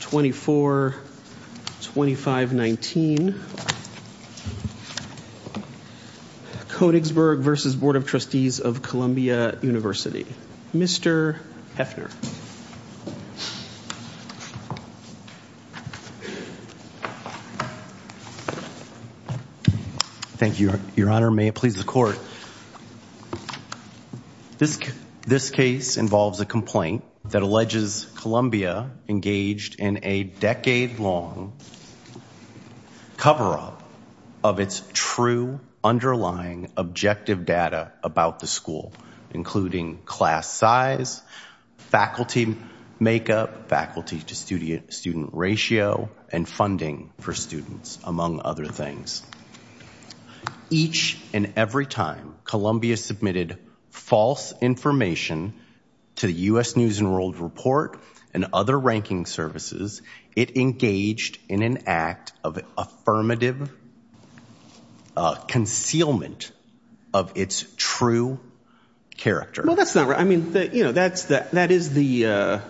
24 25 19 Koenigsberg v. Board of Trustees of Columbia University mr. Hefner thank you your honor may it please the court this this case involves a complaint that alleges Columbia engaged in a decade-long cover-up of its true underlying objective data about the school including class size faculty makeup faculty to student student ratio and funding for students among other things each and every time Columbia submitted false information to the US News and World Report and other ranking services it engaged in an act of affirmative concealment of its true character that's not right I mean that you know that's that that is the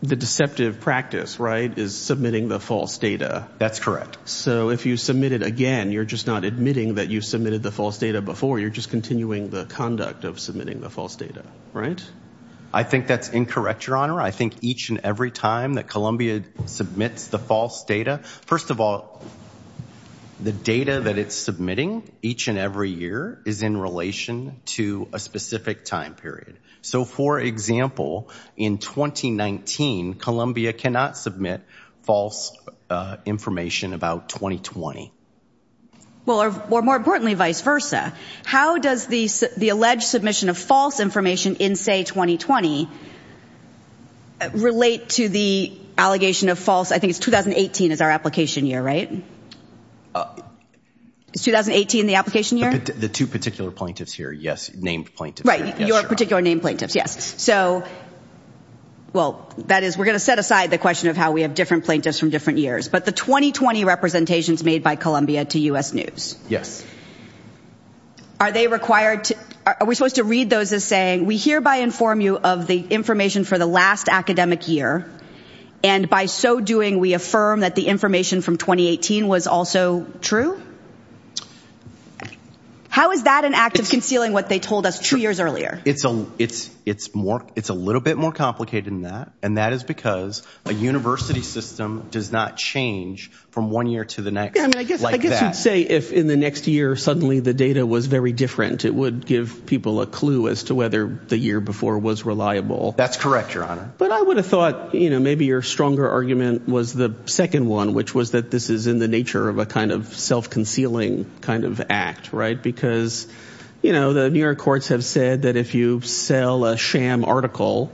the deceptive practice right is submitting the false data that's correct so if you submit it again you're just not admitting that you submitted the false data before you're just continuing the conduct of submitting the false data right I think that's incorrect your honor I think each and every time that Columbia submits the false data first of all the data that it's submitting each and every year is in relation to a so for example in 2019 Columbia cannot submit false information about 2020 well or more importantly vice versa how does the alleged submission of false information in say 2020 relate to the allegation of false I think it's 2018 is our application year right it's 2018 the application year the two particular plaintiffs here yes named plaintiff right your particular name plaintiffs yes so well that is we're gonna set aside the question of how we have different plaintiffs from different years but the 2020 representations made by Columbia to US News yes are they required are we supposed to read those as saying we hereby inform you of the information for the last academic year and by so doing we affirm that the information from 2018 was also true how is that an act of concealing what they told us two years earlier it's a it's it's more it's a little bit more complicated than that and that is because a university system does not change from one year to the next say if in the next year suddenly the data was very different it would give people a clue as to whether the year before was reliable that's correct your honor but I would have thought you know maybe your stronger argument was the second one which was that this is in the nature of a kind of self-concealing kind of act right because you know the New York courts have said that if you sell a sham article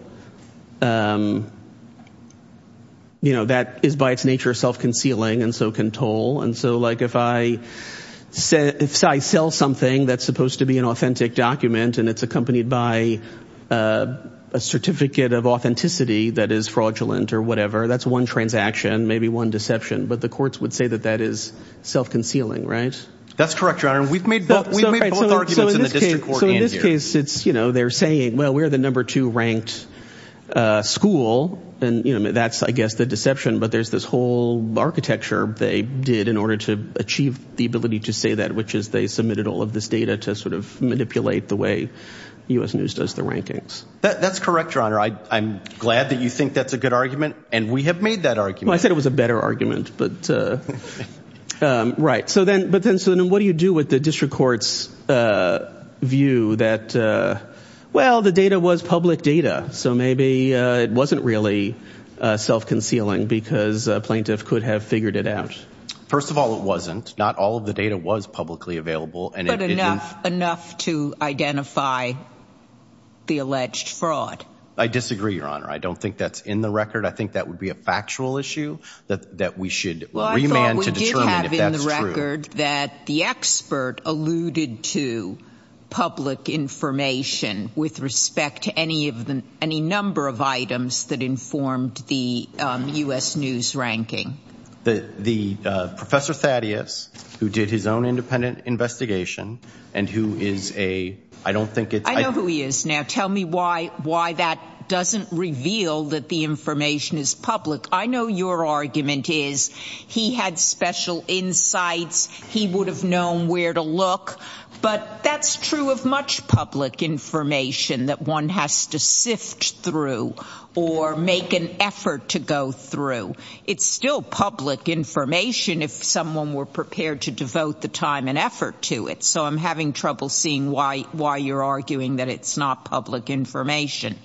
you know that is by its nature self-concealing and so can toll and so like if I said if I sell something that's supposed to be an authentic document and it's accompanied by a certificate of authenticity that is fraudulent or whatever that's one transaction maybe one deception but the courts would say that that is self-concealing right that's correct your honor we've made so in this case it's you know they're saying well we're the number two ranked school and you know that's I guess the deception but there's this whole architecture they did in order to achieve the ability to say that which is they submitted all of this data to sort of manipulate the way US News does the rankings that's correct your honor I I'm glad that you think that's a good argument and we have made that argument I said it was a better argument but right so then but then so then what do you do with the district courts view that well the data was public data so maybe it wasn't really self-concealing because plaintiff could have figured it out first of all it wasn't not all of the data was publicly available and enough enough to identify the alleged fraud I disagree your honor I don't think that's in the record I think that would be a factual issue that that we should have in the record that the expert alluded to public information with respect to any of them any number of items that informed the US News ranking the the professor Thaddeus who did his own independent investigation and who is a I don't think it's I know who he is now tell me why why that doesn't reveal that the information is public I know your argument is he had special insights he would have known where to look but that's true of much public information that one has to sift through or make an effort to go through it's still public information if someone were prepared to devote the time and effort to it so I'm having trouble seeing why why you're arguing that it's not public information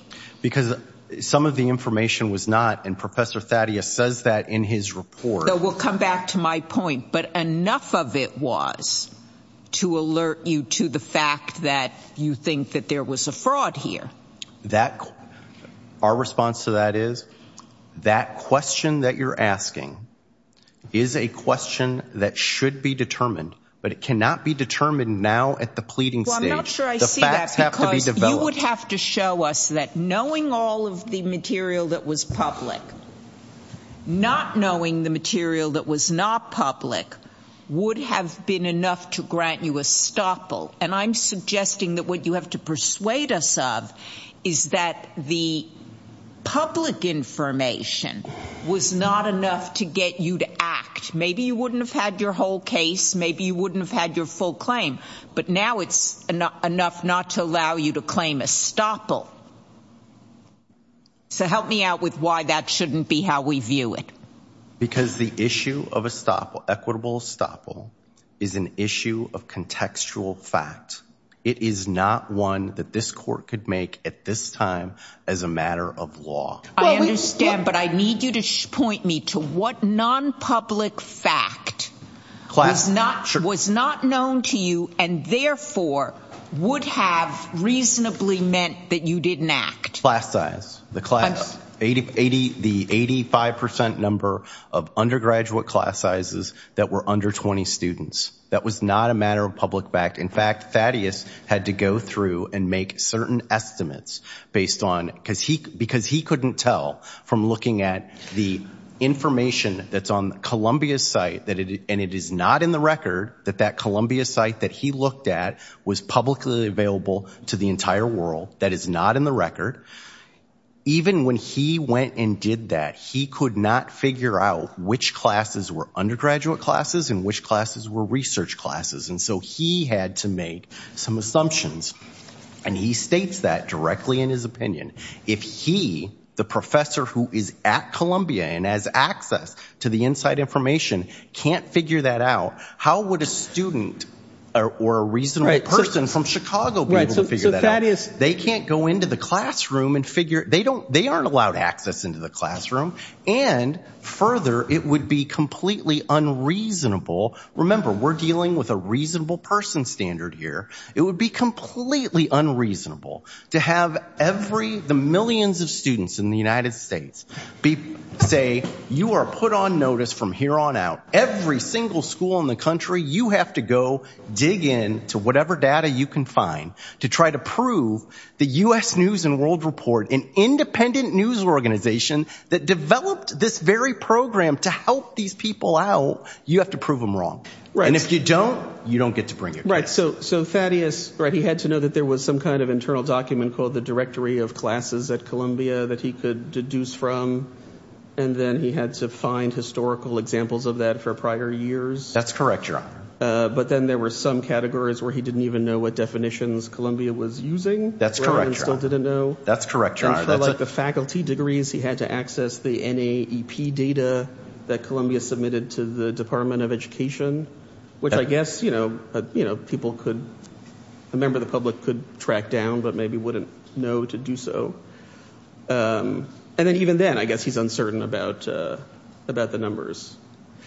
because some of the information was not and professor Thaddeus says that in his report that will come back to my point but enough of it was to alert you to the fact that you think that there was a fraud here that our response to that is that question that you're asking is a question that should be determined but it cannot be determined now at the pleading stage the facts have to be that knowing all of the material that was public not knowing the material that was not public would have been enough to grant you a stopple and I'm suggesting that what you have to persuade us of is that the public information was not enough to get you to act maybe you wouldn't have had your whole case maybe you wouldn't have had your full claim but now it's enough not to allow you to so help me out with why that shouldn't be how we view it because the issue of a stop or equitable stopple is an issue of contextual fact it is not one that this court could make at this time as a matter of law I understand but I need you to point me to what non public fact class not sure was not known to you and therefore would have reasonably meant that you didn't act class size the class 8080 the 85% number of undergraduate class sizes that were under 20 students that was not a matter of public fact in fact Thaddeus had to go through and make certain estimates based on because he because he couldn't tell from looking at the information that's on Columbia's site that it and it is not in the record that that Columbia site that he looked at was publicly available to the entire world that is not in the record even when he went and did that he could not figure out which classes were undergraduate classes in which classes were research classes and so he had to make some assumptions and he states that directly in his opinion if he the professor who is at Columbia and has access to the inside information can't figure that out how would a student or a reason right person from Chicago right so that is they can't go into the classroom and figure they don't they aren't allowed access into the classroom and further it would be completely unreasonable remember we're dealing with a reasonable person standard here it would be completely unreasonable to have every the millions of students in the United States be say you are put on notice from here on out every single school in the country you have to go dig in to whatever data you can find to try to prove the US News and World Report an independent news organization that developed this very program to help these people out you have to prove them wrong right and if you don't you don't get to bring it right so so Thaddeus right he had to know that there was some kind of internal document called the directory of classes at Columbia that he could deduce from and then he had to find historical examples of that for prior years that's correct but then there were some categories where he didn't even know what definitions Columbia was using that's correct I still didn't know that's correct like the faculty degrees he had to access the NAEP data that Columbia submitted to the Department of Education which I guess you know you know people could a member of the public could track down but maybe wouldn't know to do so and then even then I guess he's uncertain about about the numbers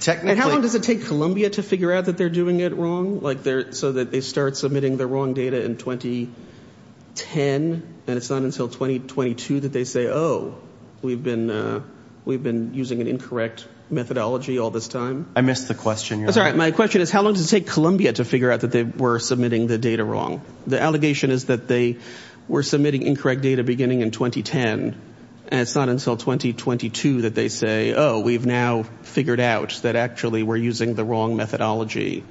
technically how long does it take Columbia to figure out that they're doing it wrong like they're so that they start submitting the wrong data in 2010 and it's not until 2022 that they say oh we've been we've been using an incorrect methodology all this time I missed the question that's right my question is how long does it take Columbia to figure out that they were submitting the data wrong the allegation is that they were submitting incorrect data beginning in 2010 and it's not until 2022 that they say oh we've now figured out that actually we're using the wrong methodology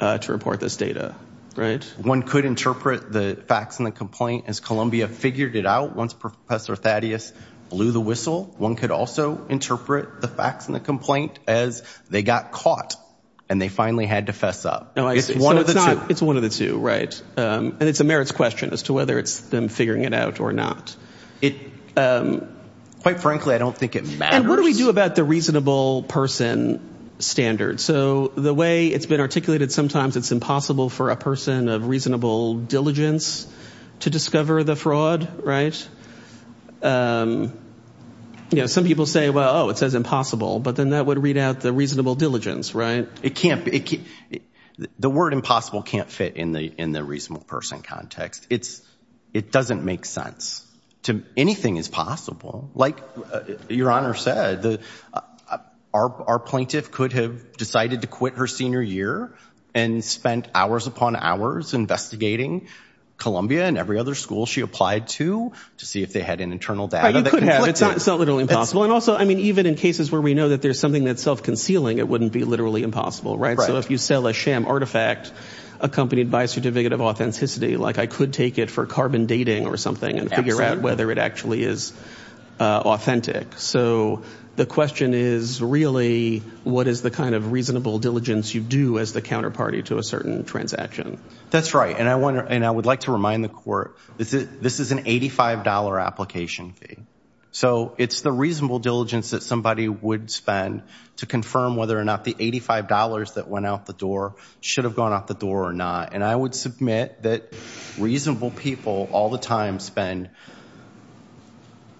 to report this data right one could interpret the facts in the complaint as Columbia figured it out once professor Thaddeus blew the whistle one could also interpret the facts in the complaint as they got caught and they finally had to fess up no it's one of the two it's one of the two right and it's a merits question as to whether it's them figuring it out or not it quite frankly I don't think it matters what do we do about the reasonable person standard so the way it's been articulated sometimes it's impossible for a person of reasonable diligence to discover the fraud right you know some people say well oh it says impossible but then that would read out the reasonable diligence right it can't be the word impossible can't fit in the in the reasonable person context it's it doesn't make sense to anything is possible like your honor said the our plaintiff could have decided to quit her senior year and spent hours upon hours investigating Columbia and every other school she applied to to see if they had an internal data that could have it's not it's not literally impossible and also I mean even in cases where we know that there's something that self concealing it wouldn't be literally impossible right so if you sell a sham artifact accompanied by a certificate of authenticity like I could take it for carbon dating or something and figure out whether it actually is authentic so the question is really what is the kind of reasonable diligence you do as the counterparty to a certain transaction that's right and I wonder and I would like to remind the court this is this is an $85 application fee so it's the reasonable diligence that somebody would spend to confirm whether or not the $85 that went out the door should have gone out the door or not and I would submit that reasonable people all the time spend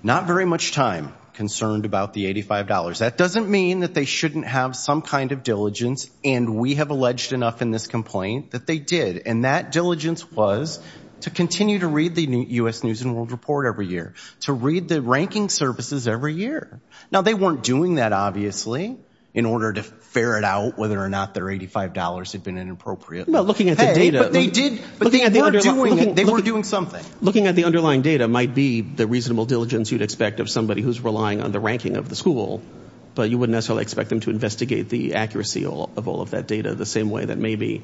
not very much time concerned about the $85 that doesn't mean that they shouldn't have some kind of diligence and we have alleged enough in this complaint that they did and that diligence was to continue to read the US News and World Report every year to read the ranking services every year now they weren't doing that obviously in order to ferret out whether or not their $85 had been inappropriate looking at the data they did but they were doing something looking at the underlying data might be the reasonable diligence you'd expect of somebody who's relying on the ranking of the school but you wouldn't necessarily expect them to investigate the accuracy of all of that data the same way that maybe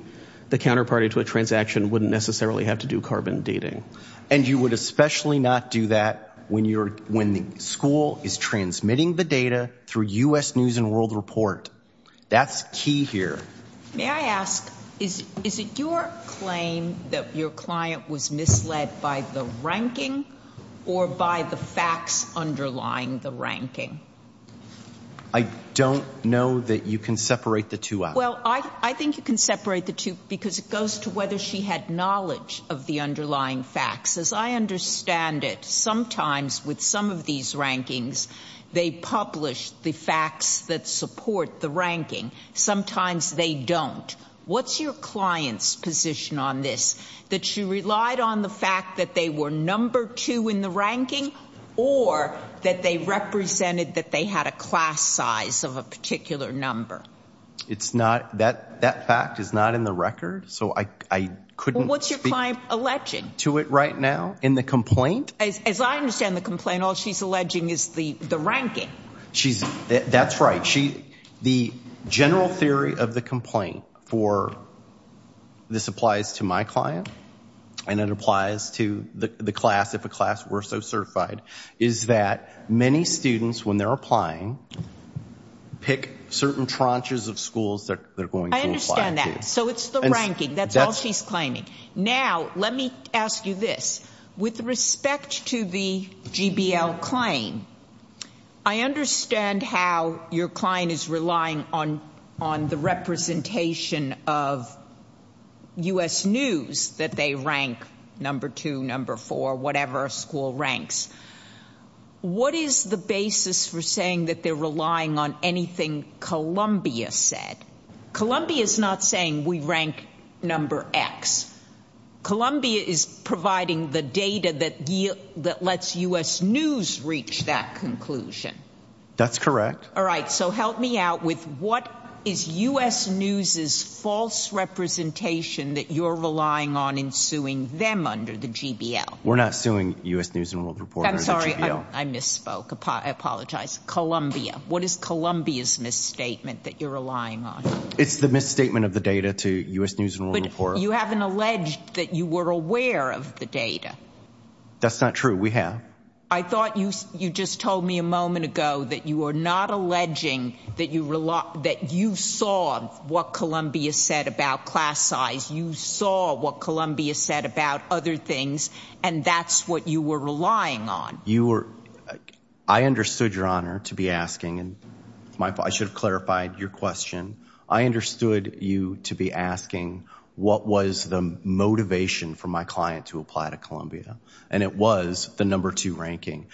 the counterparty to a transaction wouldn't necessarily have to do carbon dating and you would especially not do that when you're when the school is transmitting the data through US News and World Report that's key here may I ask is is it your claim that your client was misled by the ranking or by the facts underlying the ranking I don't know that you can separate the two well I I think you can separate the two because it goes to whether she had knowledge of the underlying facts as I understand it sometimes with some of these rankings they publish the facts that support the ranking sometimes they don't what's your clients position on this that you relied on the fact that they were number two in the ranking or that they represented that they had a class size of a particular number it's not that that fact is not in the record so I couldn't what's your client alleging to it right now in the complaint as I understand the complaint all she's alleging is the the ranking she's that's right she the general theory of the complaint for this applies to my client and it applies to the class if a class were so certified is that many students when they're applying pick certain tranches of schools that they're going to understand that so it's the ranking that's all she's claiming now let me ask you this with respect to the GBL claim I understand how your client is relying on on the representation of US News that they rank number two number four whatever school ranks what is the basis for saying that they're relying on anything Columbia said Columbia is not saying we rank number X Columbia is providing the data that year that lets US News reach that conclusion that's correct all right so help me out with what is US News's false representation that you're relying on in suing them under the GBL we're not suing US News I'm sorry I misspoke I apologize Columbia what is Columbia's misstatement that you're relying on it's the misstatement of the data to US News but you haven't alleged that you were aware of the data that's not true we have I thought you you just told me a moment ago that you are not alleging that you rely that you saw what Columbia said about class size you saw what Columbia said about other things and that's what you were relying on you were I understood your honor to be asking and my I should have clarified your question I understood you to be asking what was the motivation for my client to apply to Columbia and it was the number two ranking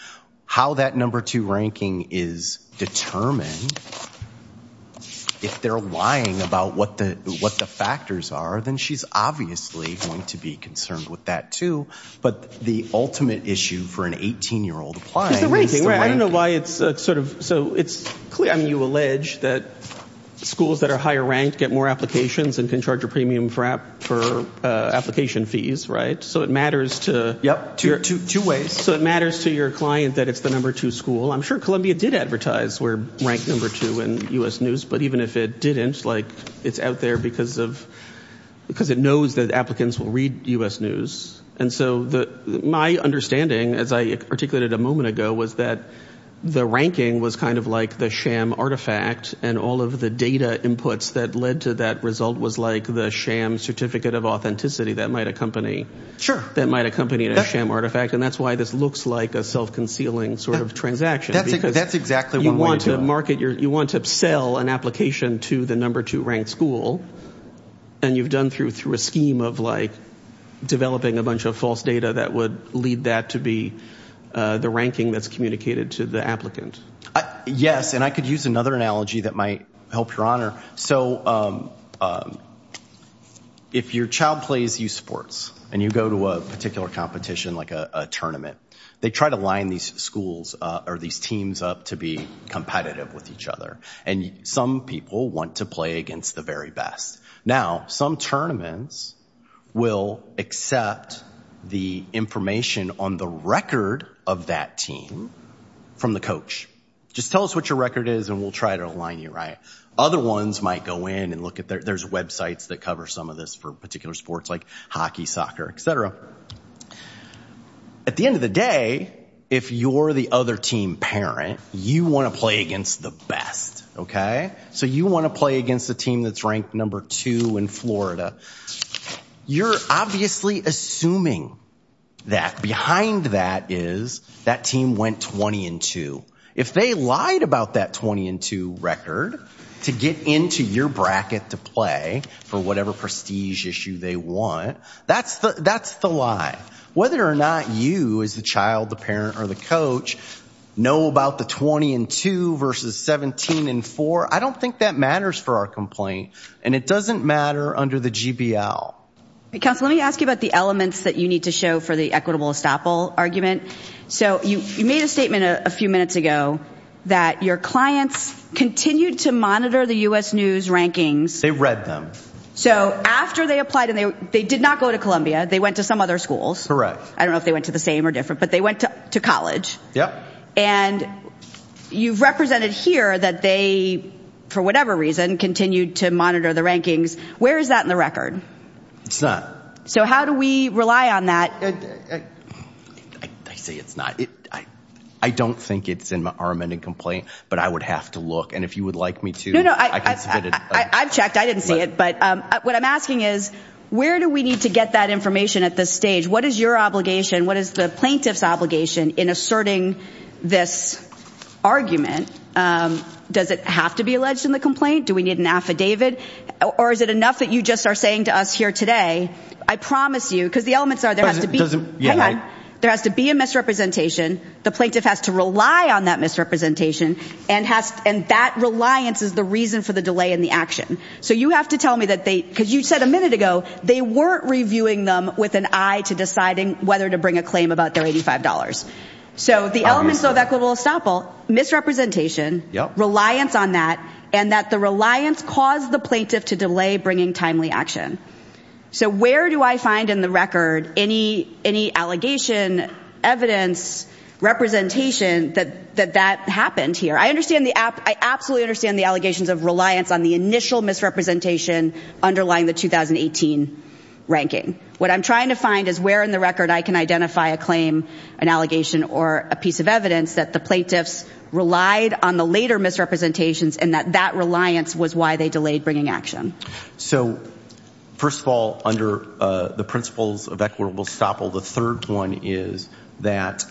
how that number two ranking is determined if they're lying about what the what the factors are then she's obviously going to be concerned with that too but the ultimate issue for an 18 year old applying I don't know why it's sort of so it's clear I mean you allege that schools that are higher ranked get more applications and can charge a premium for app for application fees right so it matters to yep two ways so it matters to your client that it's the number two school I'm sure Columbia did advertise we're ranked number two in US News but even if it didn't like it's out there because of because it knows that applicants will read US News and so the my understanding as I articulated a moment ago was that the ranking was kind of like the sham artifact and all of the data inputs that led to that result was like the sham certificate of authenticity that might accompany sure that might accompany a sham artifact and that's why this looks like a self-concealing sort of transaction that's exactly what we want market your you want to sell an application to the number two ranked school and you've done through through a scheme of like developing a bunch of false data that would lead that to be the ranking that's communicated to the applicant yes and I could use another analogy that might help your honor so if your child plays you sports and you go to a particular competition like a tournament they try to line these schools or these teams up to be competitive with each other and some people want to play against the very best now some tournaments will accept the information on the record of that team from the coach just tell us what your record is and we'll try to align you right other ones might go in and look at there's websites that cover some of this for particular sports like hockey soccer etc at the end of the day if you're the other team parent you want to play against the best okay so you want to play against the team that's ranked number two in Florida you're obviously assuming that behind that is that team went 20 and 2 if they lied about that 20 and 2 record to get into your bracket to play for whatever prestige issue they want that's the that's the lie whether or not you is the child the parent or the coach know about the 20 and 2 versus 17 and 4 I don't think that matters for our complaint and it doesn't matter under the GBL because let me ask you about the elements that you need to show for the equitable estoppel argument so you made a statement a few minutes ago that your clients continued to monitor the US News rankings they read them so after they applied and they they did not go to Columbia they went to some other schools correct I don't know if they went to the same or different but they went to college yeah and you've represented here that they for whatever reason continued to monitor the rankings where is that in the record it's not so how do we rely on that I say it's not it I I don't think it's in my arm and a complaint but I would have to look and if you would like me to know I I've checked I didn't see it but what I'm asking is where do we need to get that information at this what is your obligation what is the plaintiff's obligation in asserting this argument does it have to be alleged in the complaint do we need an affidavit or is it enough that you just are saying to us here today I promise you because the elements are there has to be there has to be a misrepresentation the plaintiff has to rely on that misrepresentation and has and that reliance is the reason for the delay in the action so you have to tell me that they because you said a to deciding whether to bring a claim about their $85 so the elements of equitable estoppel misrepresentation yeah reliance on that and that the reliance caused the plaintiff to delay bringing timely action so where do I find in the record any any allegation evidence representation that that that happened here I understand the app I absolutely understand the allegations of reliance on the initial misrepresentation underlying the 2018 ranking what I'm trying to find is where in the record I can identify a claim an allegation or a piece of evidence that the plaintiffs relied on the later misrepresentations and that that reliance was why they delayed bringing action so first of all under the principles of equitable estoppel the third one is that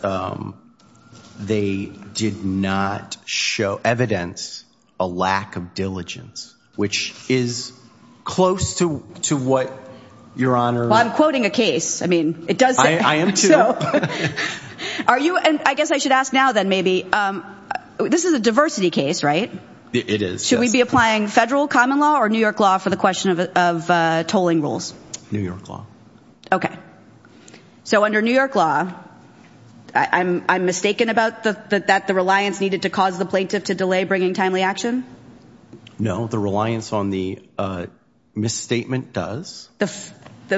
they did not show evidence a lack of diligence which is close to to what your honor I'm quoting a case I mean it does are you and I guess I should ask now then maybe this is a diversity case right it is should we be applying federal common law or New York law for the question of tolling rules New York law okay so under New York law I'm mistaken about the that the reliance needed to cause the plaintiff to delay bringing timely action no the reliance on the misstatement does the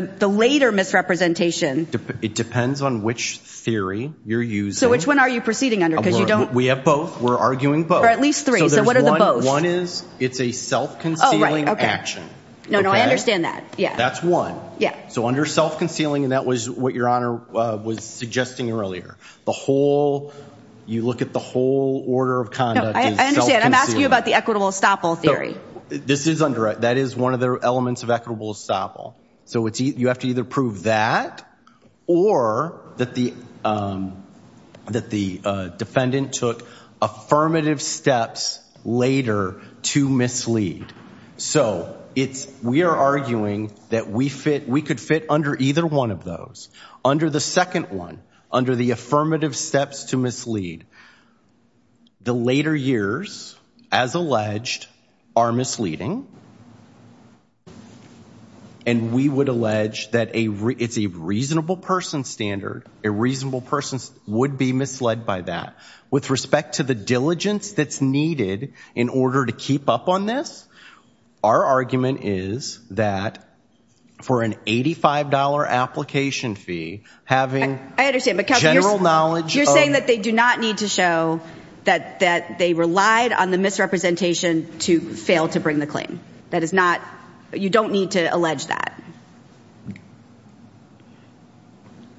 the later misrepresentation it depends on which theory you're used so which one are you proceeding under because you don't we have both we're arguing but at least three so what are the one is it's a self-concealing action no no I understand that yeah that's one yeah so under self-concealing and that was what your honor was suggesting earlier the whole you look at the whole order of conduct I understand I'm asking you about the equitable estoppel theory this is under it that is one of the elements of equitable estoppel so it's you have to either prove that or that the that the defendant took affirmative steps later to mislead so it's we are arguing that we fit we could fit under either one of those under the second one under the affirmative steps to mislead the later years as alleged are misleading and we would allege that a it's a reasonable person standard a reasonable person would be misled by that with respect to the diligence that's needed in order to keep up on this our argument is that for an $85 application fee having I understand because general knowledge you're saying that they do not need to show that that they relied on the misrepresentation to fail to bring the claim that is not you don't need to allege that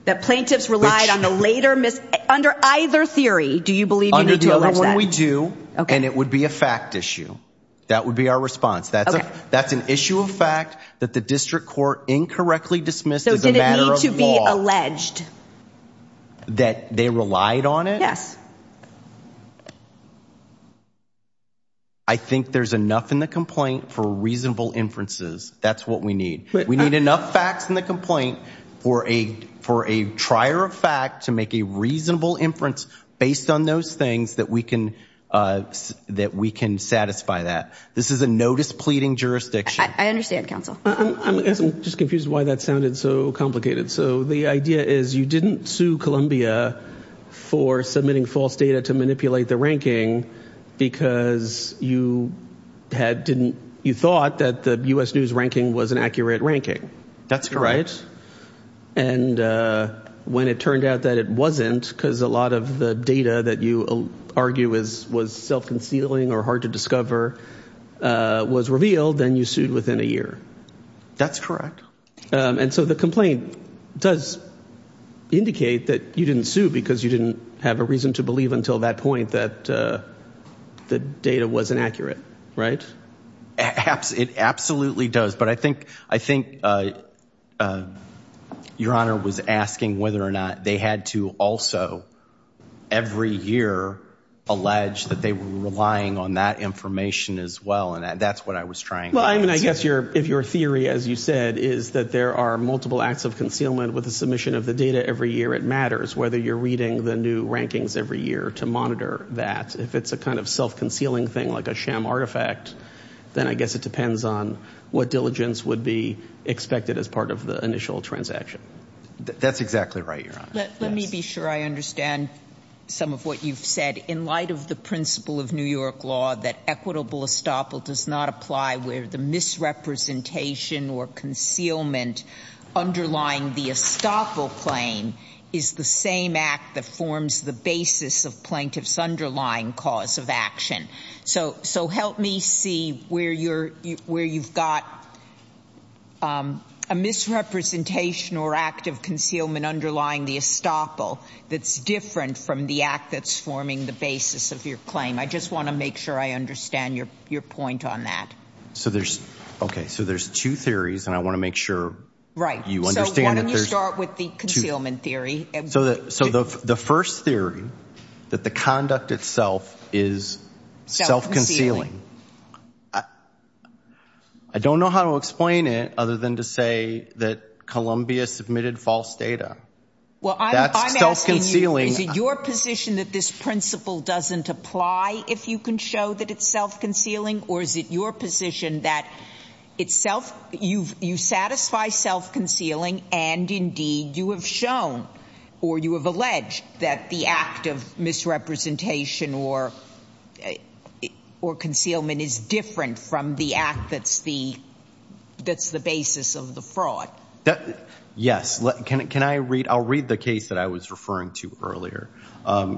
that plaintiffs relied on the later miss under either theory do you believe we do okay and it would be a fact issue that would be our response that's that's an issue of fact that the district court incorrectly dismissed to be alleged that they relied on it yes I think there's enough in the complaint for reasonable inferences that's what we need we need enough facts in the complaint for a for a trier of fact to make a reasonable inference based on those things that we can that we can satisfy that this is a notice pleading jurisdiction I understand counsel I'm guessing just confused why that sounded so complicated so the idea is you didn't sue Columbia for submitting false data to manipulate the ranking because you had didn't you thought that the US News ranking was an accurate ranking that's correct and when it turned out that it wasn't because a lot of the data that you argue is was self-concealing or hard to discover was revealed then you sued within a year that's correct and so the complaint does indicate that you didn't sue because you didn't have a reason to believe until that point that the data was inaccurate right apps it absolutely does but I think I think your honor was asking whether or not they had to also every year allege that they were relying on that information as well and that's what I was trying well I mean I guess your if your theory as you said is that there are multiple acts of concealment with the submission of the data every year it matters whether you're reading the new rankings every year to monitor that if it's a kind of self-concealing thing like a sham artifact then I guess it depends on what diligence would be expected as part of the initial transaction that's exactly right your honor let me be sure I understand some of what you've said in light of the principle of New York law that equitable estoppel does not apply where the misrepresentation or concealment underlying the estoppel claim is the same act that forms the basis of plaintiffs underlying cause of action so so help me see where you're where you've got a misrepresentation or act of concealment underlying the estoppel that's different from the act that's forming the basis of your claim I just want to make sure I understand your your point on that so there's okay so there's two theories and I want to make sure right you want to start with the concealment theory so that so the first theory that the conduct itself is self-concealing I don't know how to explain it other than to say that Columbia submitted false data well that's self-concealing your position that this principle doesn't apply if you can show that it's self-concealing or is it your position that itself you've you satisfy self-concealing and indeed you have shown or you have alleged that the act of misrepresentation or or concealment is different from the act that's the that's the basis of the fraud that yes can it can I read I'll read the case that I was referring to earlier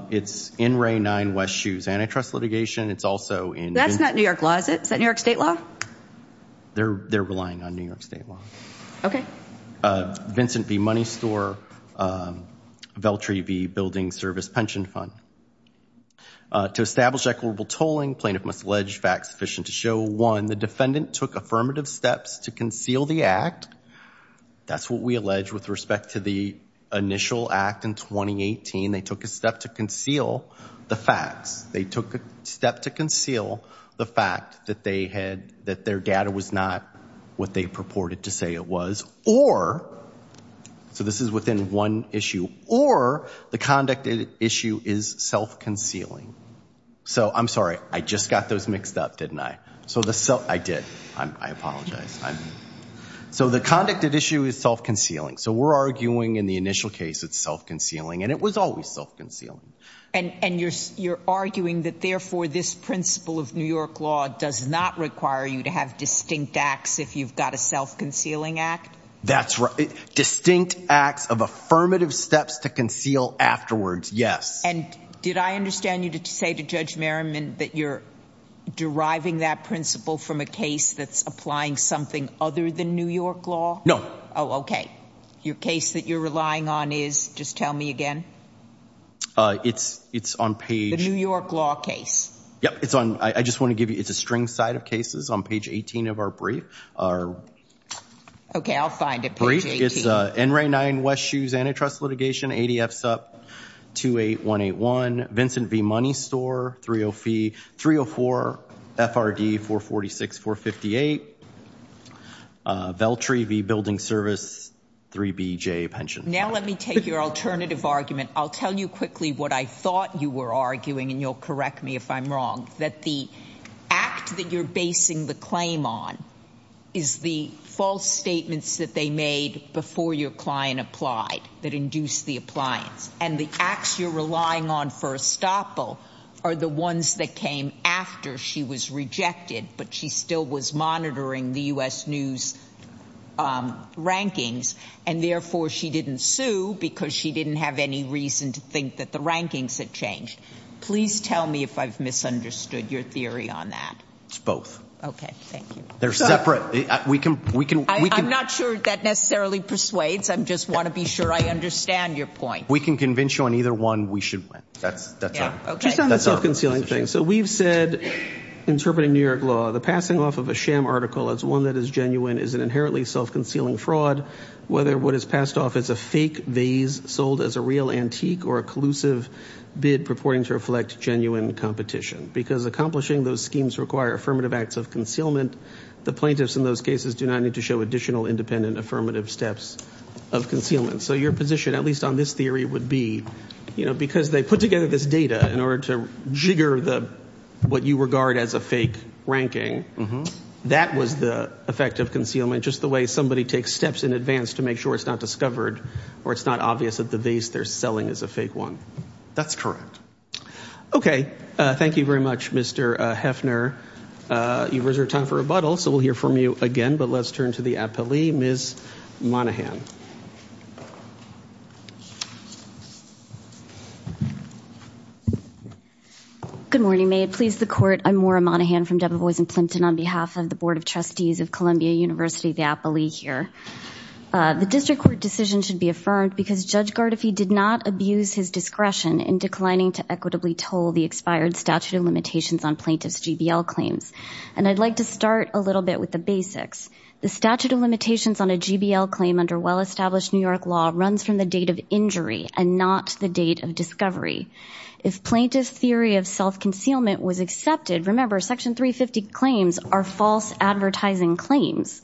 it's in Ray nine West shoes antitrust litigation it's also in that's not New York laws it's that New York State law they're they're relying on New York State law okay Vincent be money store Veltri be building service pension fund to establish equitable tolling plaintiff must allege facts sufficient to show one the defendant took affirmative steps to conceal the act that's what we allege with respect to the initial act in 2018 they took a step to conceal the facts they took a step to conceal the fact that they had that their data was not what they purported to say it was or so this is within one issue or the conduct issue is self-concealing so I'm sorry I just got those mixed up didn't I so the so I did I'm I apologize I'm so the conducted issue is self-concealing so we're arguing in the initial case it's self-concealing and it was always self-concealing and and you're you're arguing that therefore this principle of New York law does not require you to have distinct acts if you've got a self-concealing act that's right distinct acts of affirmative steps to conceal afterwards yes and did I you to say to judge Merriman that you're deriving that principle from a case that's applying something other than New York law no oh okay your case that you're relying on is just tell me again it's it's on page the New York law case yep it's on I just want to give you it's a string side of cases on page 18 of our brief our okay I'll find it brief it's a n-ray nine West shoes antitrust litigation ADF sup 28 181 Vincent V money store 30 fee 304 FRD 446 458 Veltri V building service 3 BJ pension now let me take your alternative argument I'll tell you quickly what I thought you were arguing and you'll correct me if I'm wrong that the act that you're basing the claim on is the false statements that they made before your client applied that induced the appliance and the acts you're relying on for estoppel are the ones that came after she was rejected but she still was monitoring the US News rankings and therefore she didn't sue because she didn't have any reason to think that the rankings had changed please tell me if I've misunderstood your theory on that both okay they're separate we can we can I'm not sure that necessarily persuades I'm just want to be sure I understand your point we can convince you on either one we should that's that's okay that's all concealing thing so we've said interpreting New York law the passing off of a sham article as one that is genuine is an inherently self-concealing fraud whether what is passed off as a fake vase sold as a real antique or a collusive bid purporting to genuine competition because accomplishing those schemes require affirmative acts of concealment the plaintiffs in those cases do not need to show additional independent affirmative steps of concealment so your position at least on this theory would be you know because they put together this data in order to jigger the what you regard as a fake ranking mm-hmm that was the effect of concealment just the way somebody takes steps in advance to make sure it's not discovered or it's not obvious that the vase they're selling is a fake one that's correct okay thank you very much mr. Hefner you reserve time for rebuttal so we'll hear from you again but let's turn to the apple II miss Monahan good morning may it please the court I'm Maura Monahan from Debevoise and Plimpton on behalf of the Board of Trustees of Columbia University the Apple II here the district court decision should be affirmed because judge Gard if he did not abuse his discretion in declining to equitably told the expired statute of limitations on plaintiffs GBL claims and I'd like to start a little bit with the basics the statute of limitations on a GBL claim under well-established New York law runs from the date of injury and not the date of discovery if plaintiffs theory of self-concealment was accepted remember section 350 claims are false advertising claims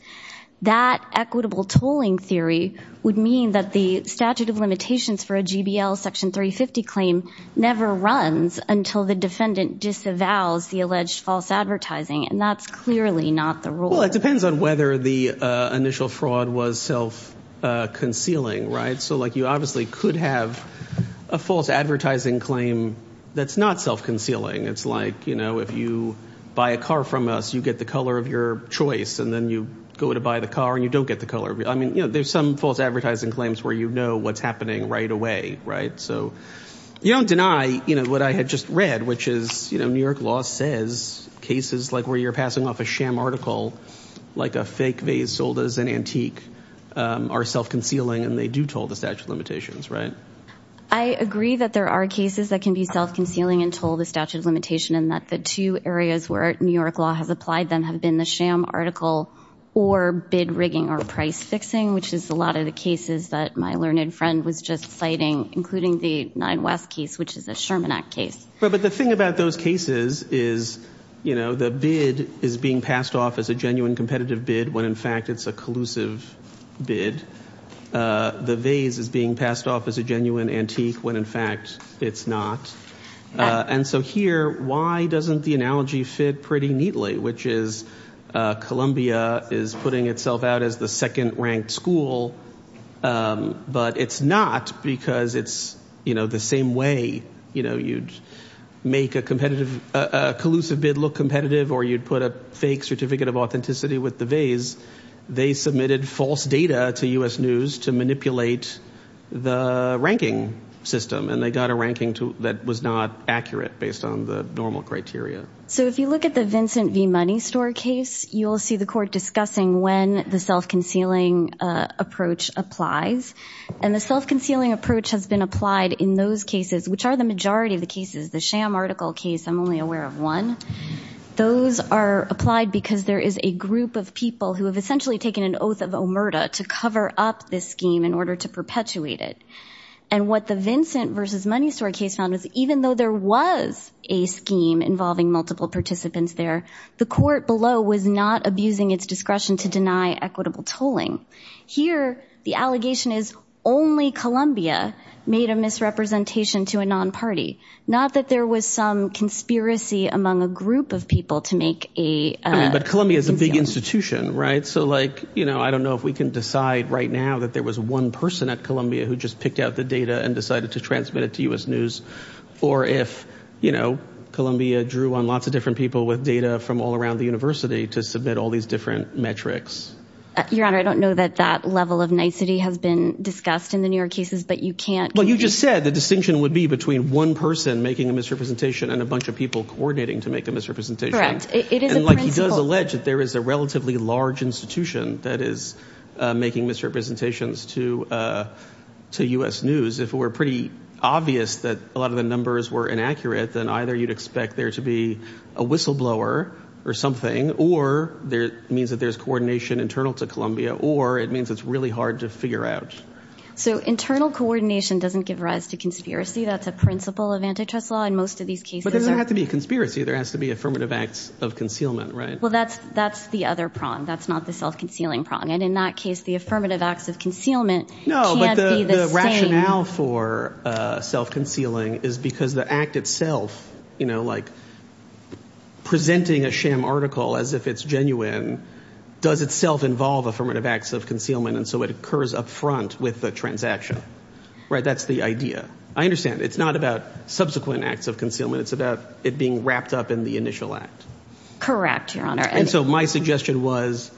that equitable tolling theory would mean that the statute of limitations for a GBL section 350 claim never runs until the defendant disavows the alleged false advertising and that's clearly not the rule it depends on whether the initial fraud was self-concealing right so like you obviously could have a false advertising claim that's not self-concealing it's like you know if you buy a car from us you get the color of your choice and then you go to buy the car and you don't get the color I mean you know there's some false advertising claims where you know what's happening right away right so you don't deny you know what I had just read which is you know New York law says cases like where you're passing off a sham article like a fake vase sold as an antique are self-concealing and they do told the statute of limitations right I agree that there are cases that can be self-concealing and told the statute of limitation and that the two areas where New York law has applied them have been the sham article or bid rigging or price fixing which is a lot of the cases that my learned friend was just citing including the Nine West case which is a Sherman Act case but the thing about those cases is you know the bid is being passed off as a genuine competitive bid when in fact it's a collusive bid the vase is being passed off as a genuine antique when in fact it's not and so here why doesn't the analogy fit pretty neatly which is Columbia is putting itself out as the second ranked school but it's not because it's you know the same way you know you'd make a competitive collusive bid look competitive or you'd put a fake certificate of authenticity with the vase they submitted false data to US News to manipulate the ranking system and they got a ranking to that was not accurate based on the normal criteria so if you look at the Vincent V money store case you'll see the court discussing when the self-concealing approach applies and the self-concealing approach has been applied in those cases which are the majority of the cases the sham article case I'm only aware of one those are applied because there is a group of people who have essentially taken an oath of omerta to cover up this in order to perpetuate it and what the Vincent versus money store case found was even though there was a scheme involving multiple participants there the court below was not abusing its discretion to deny equitable tolling here the allegation is only Columbia made a misrepresentation to a non-party not that there was some conspiracy among a group of people to make a but Columbia is a big institution right so like you know I don't know if we can decide right now that there was one person at Columbia who just picked out the data and decided to transmit it to US News or if you know Columbia drew on lots of different people with data from all around the university to submit all these different metrics your honor I don't know that that level of nicety has been discussed in the New York cases but you can't well you just said the distinction would be between one person making a misrepresentation and a bunch of people coordinating to make a misrepresentation right it is like he does allege that there is a relatively large institution that is making misrepresentations to to US News if it were pretty obvious that a lot of the numbers were inaccurate then either you'd expect there to be a whistleblower or something or there means that there's coordination internal to Columbia or it means it's really hard to figure out so internal coordination doesn't give rise to conspiracy that's a principle of antitrust law and most of these cases there have to be conspiracy there has to be affirmative acts of concealment right well that's that's the other prong that's not the self-concealing prong and in that case the affirmative acts of concealment rationale for self concealing is because the act itself you know like presenting a sham article as if it's genuine does itself involve affirmative acts of concealment and so it occurs up front with the transaction right that's the idea I understand it's not about subsequent acts of concealment it's about it being wrapped up in the correct your honor and so my suggestion was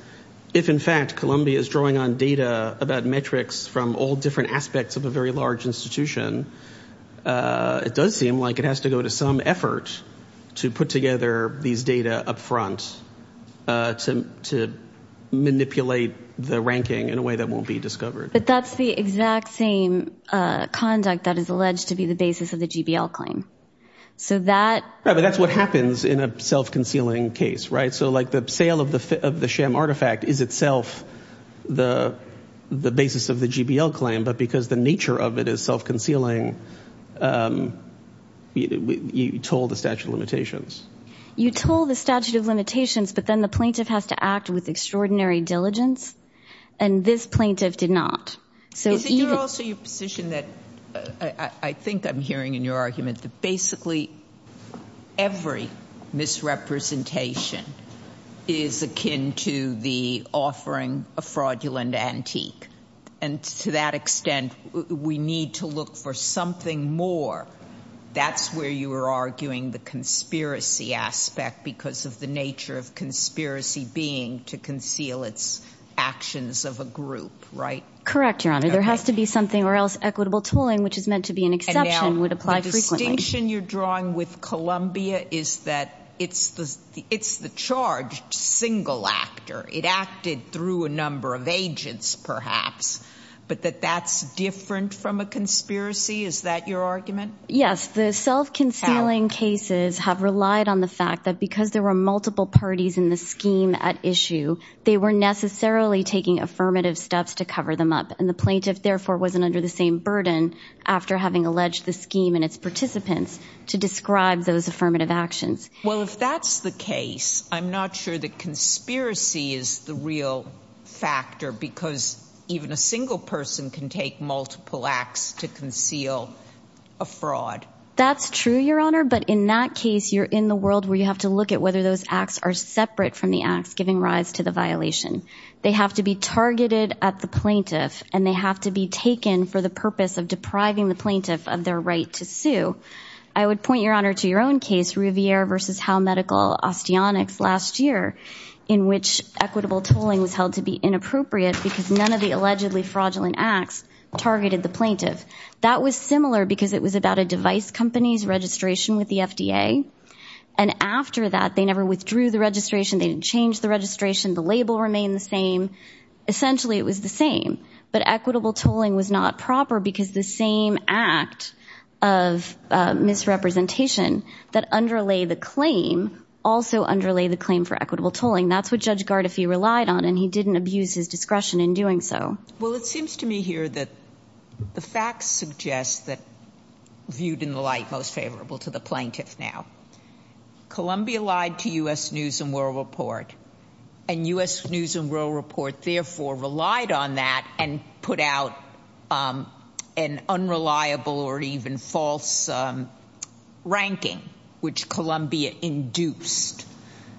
if in fact Columbia is drawing on data about metrics from all different aspects of a very large institution it does seem like it has to go to some effort to put together these data up front to manipulate the ranking in a way that won't be discovered but that's the exact same conduct that is alleged to be the basis of the GBL claim so that but that's what happens in a self-concealing case right so like the sale of the fit of the sham artifact is itself the the basis of the GBL claim but because the nature of it is self-concealing you told the statute of limitations you told the statute of limitations but then the plaintiff has to act with extraordinary diligence and this plaintiff did not so you're also misrepresentation is akin to the offering a fraudulent antique and to that extent we need to look for something more that's where you were arguing the conspiracy aspect because of the nature of conspiracy being to conceal its actions of a group right correct your honor there has to be something or else equitable tooling which is meant to be an exception would apply station you're drawing with Columbia is that it's the it's the charge single actor it acted through a number of agents perhaps but that that's different from a conspiracy is that your argument yes the self-concealing cases have relied on the fact that because there were multiple parties in the scheme at issue they were necessarily taking affirmative steps to cover them up and the plaintiff therefore wasn't under the same burden after having alleged the scheme and its participants to describe those affirmative actions well if that's the case I'm not sure that conspiracy is the real factor because even a single person can take multiple acts to conceal a fraud that's true your honor but in that case you're in the world where you have to look at whether those acts are separate from the acts giving rise to the violation they have to be targeted at the plaintiff and they have to be taken for the purpose of depriving the plaintiff of their right to sue I would point your honor to your own case Riviere versus how medical osteotics last year in which equitable tooling was held to be inappropriate because none of the allegedly fraudulent acts targeted the plaintiff that was similar because it was about a device company's registration with the FDA and after that they never withdrew the registration they didn't change the registration the label remained the same essentially it was the same but equitable tolling was not proper because the same act of misrepresentation that underlay the claim also underlay the claim for equitable tolling that's what judge Gard if he relied on and he didn't abuse his discretion in doing so well it seems to me here that the facts suggest that viewed in the light most favorable to the plaintiff now Columbia lied to us news and world report and u.s. news and world report therefore relied on that and put out an unreliable or even false ranking which Columbia induced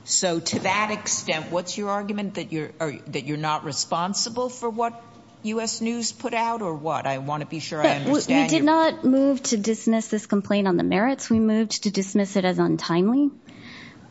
so to that extent what's your argument that you're that you're not responsible for what u.s. news put out or what I want to be sure I did not move to dismiss this complaint on the merits we moved to dismiss it as untimely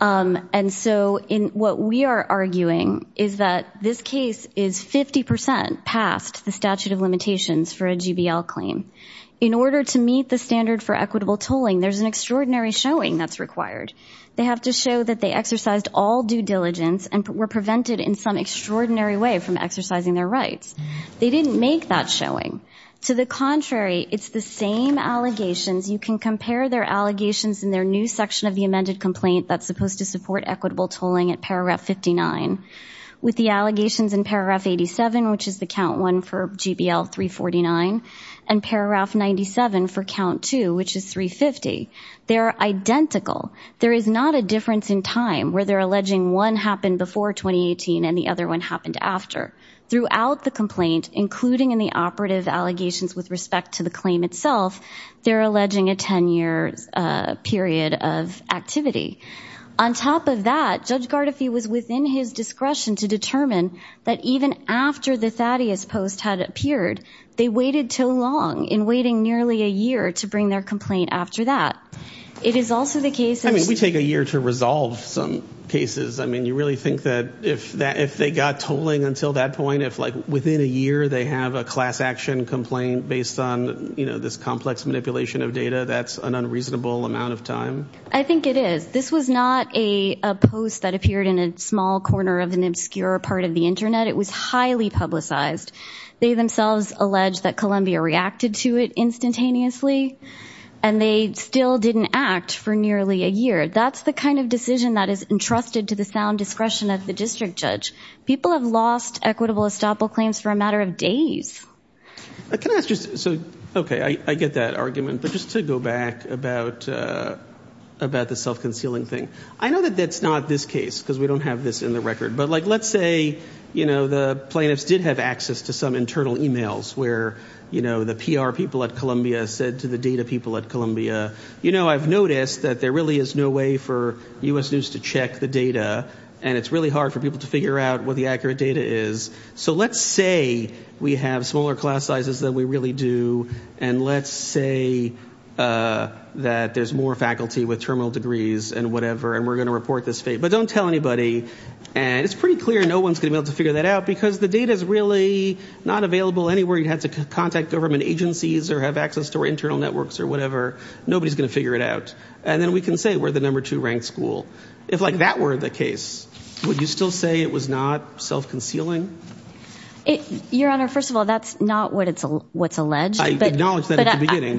and so in what we are arguing is that this case is 50% past the statute of limitations for a GBL claim in order to meet the standard for equitable tolling there's an extraordinary showing that's required they have to show that they exercised all due diligence and were prevented in some extraordinary way from exercising their rights they didn't make that showing to the contrary it's the same allegations you can compare their allegations in their new section of the amended complaint that's supposed to support equitable tolling at paragraph 59 with the allegations in paragraph 87 which is the count one for GBL 349 and paragraph 97 for count 2 which is 350 they are identical there is not a difference in time where they're alleging one happened before 2018 and the other one happened after throughout the complaint including in the operative allegations with respect to the claim itself they're alleging a 10-year period of activity on top of that judge Gardefee was within his discretion to determine that even after the Thaddeus post had appeared they waited too long in waiting nearly a year to bring their complaint after that it is also the case I mean we take a year to resolve some cases I mean you really think that if that if they got tolling until that point if like within a year they have a class-action complaint based on you know this complex manipulation of data that's an unreasonable amount of time I think it is this was not a post that appeared in a small corner of an obscure part of the internet it was highly publicized they themselves alleged that Columbia reacted to it instantaneously and they still didn't act for nearly a year that's the kind of decision that is entrusted to the sound discretion of the district judge people have lost equitable stop all claims for a matter of days okay I get that argument but just to go back about about the self-concealing thing I know that that's not this case because we don't have this in the record but like let's say you know the plaintiffs did have access to some internal emails where you know the PR people at Columbia said to the data people at Columbia you know I've noticed that there really is no way for us news to check the data and it's really hard for people to figure out what the accurate data is so let's say we have smaller class sizes that we really do and let's say that there's more faculty with terminal degrees and whatever and we're gonna report this fate but don't tell anybody and it's pretty clear no one's gonna be able to figure that out because the data is really not available anywhere you had to contact government agencies or have access to our internal networks or whatever nobody's gonna figure it out and then we can say we're the number two ranked school if like that were the case would you still say it was not self-concealing it your honor first of all that's not what it's a what's alleged but I acknowledge that at the beginning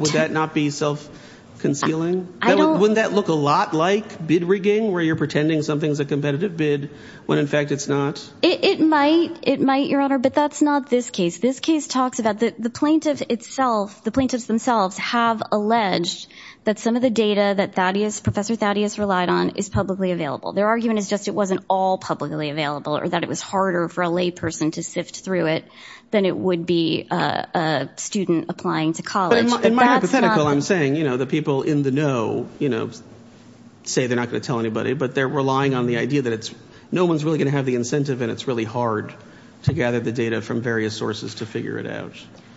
would that not be self-concealing I don't wouldn't that look a lot like bid rigging where you're pretending something's a competitive bid when in fact it's not it might it might your honor but that's not this case this case talks about that the plaintiff itself the plaintiffs themselves have alleged that some of the data that that is professor Thaddeus relied on is publicly available their argument is just it wasn't all publicly available or that it was harder for a layperson to sift through it then it would be a student applying to college I'm saying you know the people in the know you know say they're not gonna tell anybody but they're relying on the idea that it's no one's really gonna have the incentive and it's really hard to gather the data from various sources to figure it out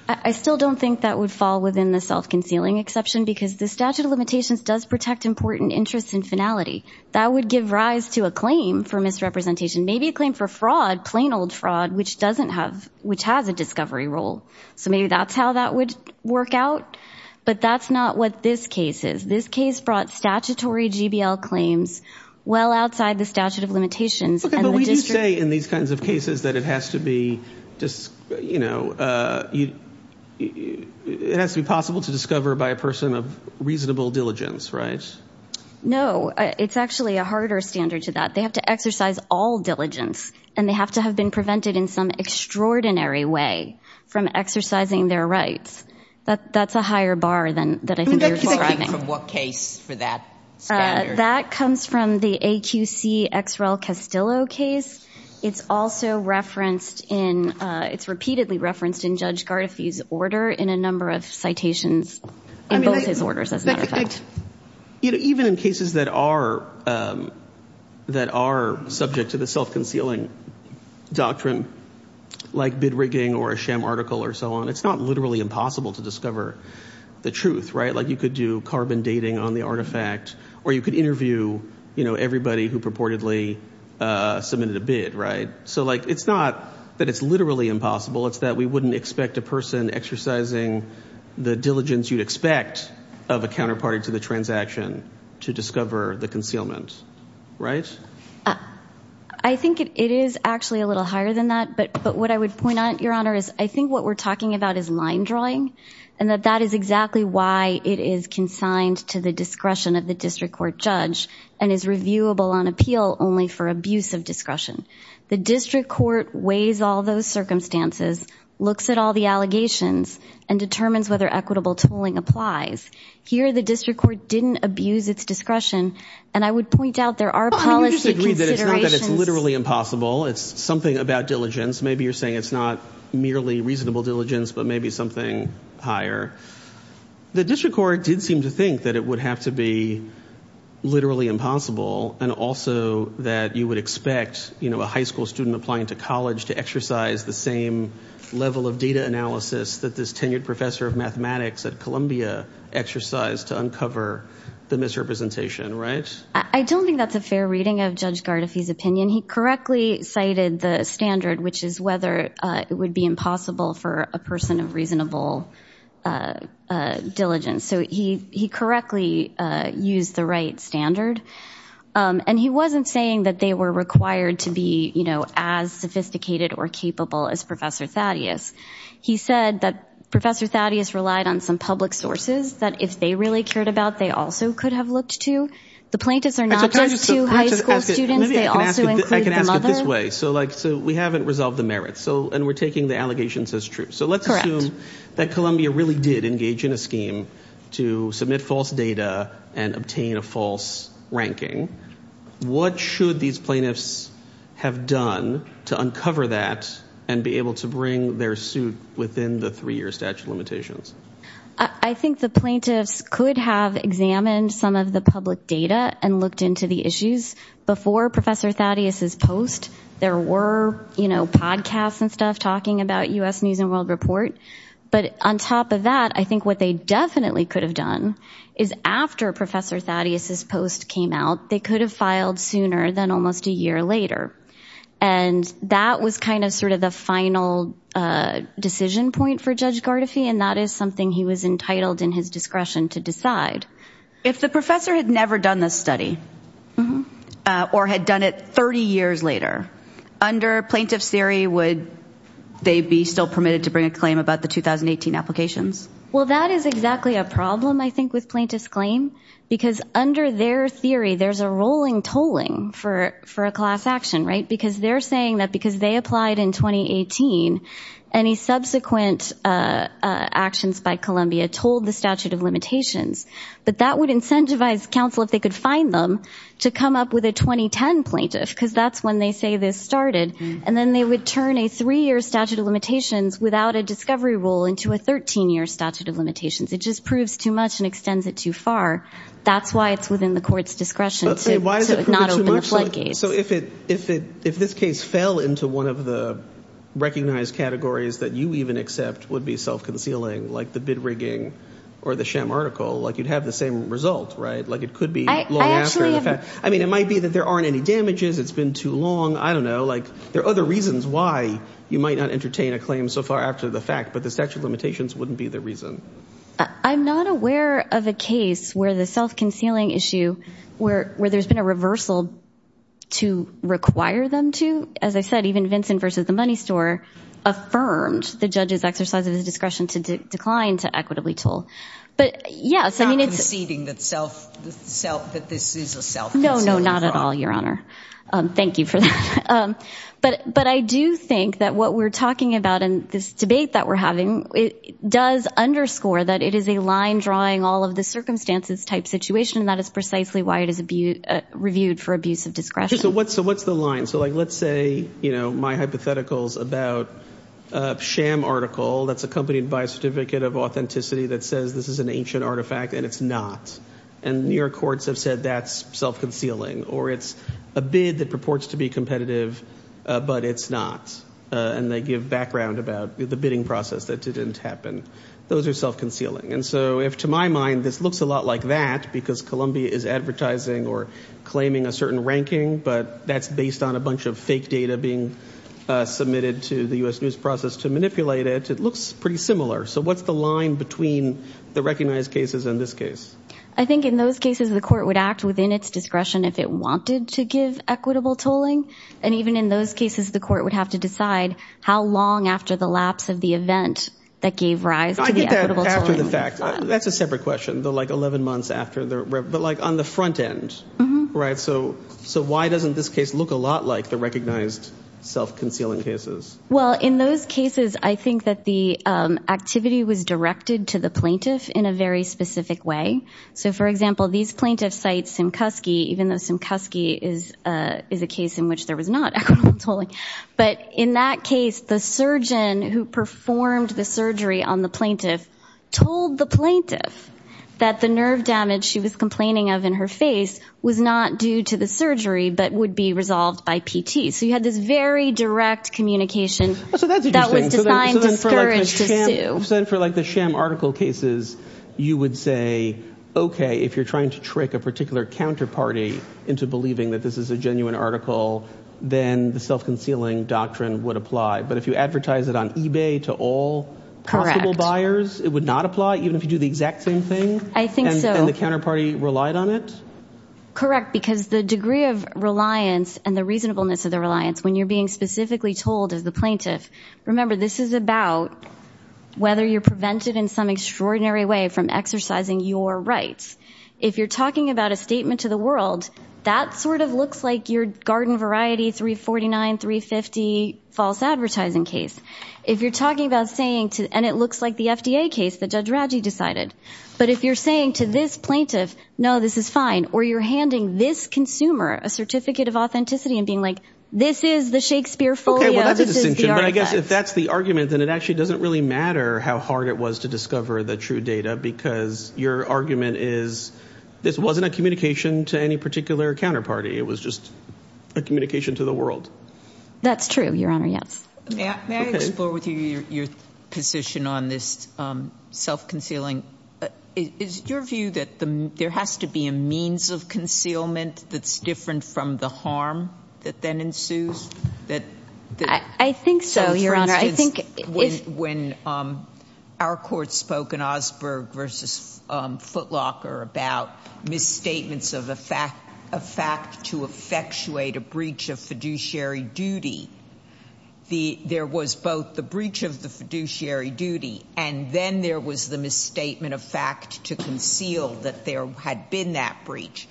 I still don't think that would fall within the self-concealing exception because the statute of limitations does protect important interests and finality that would give rise to a claim for misrepresentation maybe a claim for fraud plain old fraud which doesn't have which has a discovery rule so maybe that's how that would work out but that's not what this case is this case brought statutory GBL claims well outside the statute of limitations in these kinds of cases that it has to be just you know you it has to be possible to discover by a person of reasonable diligence right no it's actually a harder standard to that they have to exercise all diligence and they have to have been prevented in some extraordinary way from exercising their rights but that's a higher bar than that I think what case for that that comes from the AQC X rel Castillo case it's also referenced in it's repeatedly referenced in judge Garfield's order in a number of citations in both his orders as a matter of fact you know even in cases that are that are subject to the self-concealing doctrine like bid rigging or a sham article or so on it's not literally impossible to discover the truth right like you could do carbon dating on the artifact or you could interview you know everybody who purportedly submitted a bid right so like it's not that it's literally impossible it's that we wouldn't expect a person exercising the diligence you'd expect of a counterparty to the transaction to discover the concealment right I think it is actually a little higher than that but but what I would point out your honor is I think what we're talking about is line drawing and that that is exactly why it is consigned to the discretion of the district court judge and is reviewable on appeal only for abuse of discretion the district court weighs all those circumstances looks at all the allegations and determines whether equitable tolling applies here the district court didn't abuse its discretion and I would point out there are literally impossible it's something about diligence maybe you're saying it's not merely reasonable diligence but maybe something higher the district court did seem to think that it would have to be literally impossible and also that you would expect you know a high school student applying to college to exercise the same level of data analysis that this tenured professor of mathematics at Columbia exercised to uncover the misrepresentation right I don't think that's a fair reading of judge Gard if he's opinion he correctly cited the standard which is whether it would be impossible for a person of reasonable diligence so he he correctly used the right standard and he wasn't saying that they were required to be you know as sophisticated or capable as professor Thaddeus he said that professor Thaddeus relied on some public sources that if they really cared about they also could have looked to the plaintiffs are not just two high school students they also I can ask it this way so like so we haven't resolved the merits so and we're taking the allegations as true so let's assume that Columbia really did engage in a scheme to submit false data and obtain a false ranking what should these plaintiffs have done to uncover that and be able to bring their suit within the three-year statute of limitations I think the plaintiffs could have examined some of the public data and looked into the issues before professor Thaddeus is post there were you know podcasts and stuff talking about US News and World Report but on top of that I think what they definitely could have done is after professor Thaddeus's post came out they could have filed sooner than almost a year later and that was kind of sort of the final decision point for judge Gardefee and that is something he was entitled in his discretion to decide if the professor had never done this study or had done it 30 years later under plaintiffs theory would they be still permitted to bring a claim about the 2018 applications well that is exactly a problem I think with plaintiffs claim because under their theory there's a rolling tolling for for a class action right because they're saying that because they applied in 2018 any subsequent actions by Columbia told the statute of limitations but that would incentivize counsel if they could find them to come up with a 2010 plaintiff because that's when they say this started and then they would turn a three-year statute of limitations without a discovery rule into a 13-year statute of limitations it just proves too much and extends it too far that's why it's within the courts discretion so if it if it if this case fell into one of the recognized categories that you even accept would be self-concealing like the bid rigging or the sham article like you'd have the same result right like it could be I mean it might be that there aren't any damages it's been too long I don't know like there are other reasons why you might not entertain a claim so far after the fact but the statute of limitations wouldn't be the reason I'm not aware of a case where the self-concealing issue where where there's been a reversal to require them to as I said even Vincent versus the money store affirmed the judge's exercise of his discretion to decline to equitably toll but yes I mean it's eating that self self that this is a thank you for that but but I do think that what we're talking about in this debate that we're having it does underscore that it is a line drawing all of the circumstances type situation that is precisely why it is a be reviewed for abuse of discretion so what's so what's the line so like let's say you know my hypotheticals about sham article that's accompanied by a certificate of authenticity that says this is an ancient artifact and it's not and New that purports to be competitive but it's not and they give background about the bidding process that didn't happen those are self-concealing and so if to my mind this looks a lot like that because Columbia is advertising or claiming a certain ranking but that's based on a bunch of fake data being submitted to the US news process to manipulate it it looks pretty similar so what's the line between the recognized cases in this case I think in those cases the court would act within its discretion if it wanted to give equitable tolling and even in those cases the court would have to decide how long after the lapse of the event that gave rise to the fact that's a separate question though like 11 months after there but like on the front end right so so why doesn't this case look a lot like the recognized self-concealing cases well in those cases I think that the activity was directed to the plaintiff in a very specific way so for example these plaintiffs sites and even though some cusky is is a case in which there was not totally but in that case the surgeon who performed the surgery on the plaintiff told the plaintiff that the nerve damage she was complaining of in her face was not due to the surgery but would be resolved by PT so you had this very direct communication so that was designed to scourge to you said for like the sham article cases you would say okay if you're trying to trick a particular counterparty into believing that this is a genuine article then the self-concealing doctrine would apply but if you advertise it on eBay to all correctable buyers it would not apply even if you do the exact same thing I think so the counterparty relied on it correct because the degree of reliance and the reasonableness of the reliance when you're being specifically told as the plaintiff remember this is about whether you're prevented in some extraordinary way from exercising your rights if you're talking about a statement to the world that sort of looks like your garden variety 349 350 false advertising case if you're talking about saying to and it looks like the FDA case that judge Raji decided but if you're saying to this plaintiff no this is fine or you're handing this consumer a certificate of authenticity and being like this is the Shakespeare for I guess if that's the argument and it actually doesn't really matter how hard it was to discover the true data because your argument is this wasn't a communication to any particular counterparty it was just a communication to the world that's true your honor yes your position on this self-concealing is your view that there has to be a means of concealment that's different from the harm that then ensues that I think so your honor I when our court spoke in Osberg versus Footlocker about misstatements of a fact a fact to effectuate a breach of fiduciary duty the there was both the breach of the fiduciary duty and then there was the misstatement of fact to conceal that there had been that breach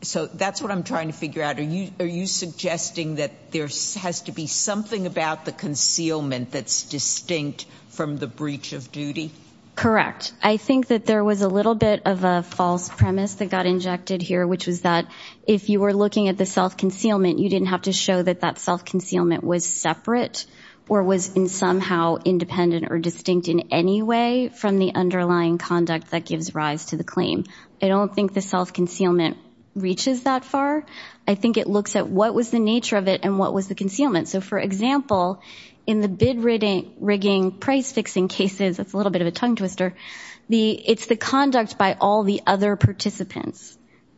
so that's what I'm trying to figure out are you suggesting that there has to be something about the concealment that's distinct from the breach of duty correct I think that there was a little bit of a false premise that got injected here which was that if you were looking at the self-concealment you didn't have to show that that self-concealment was separate or was in somehow independent or distinct in any way from the underlying conduct that gives rise to the claim I don't think the self-concealment reaches that far I think it looks at what was the nature of it and what was the concealment so for example in the bid rating rigging price fixing cases it's a little bit of a tongue twister the it's the conduct by all the other participants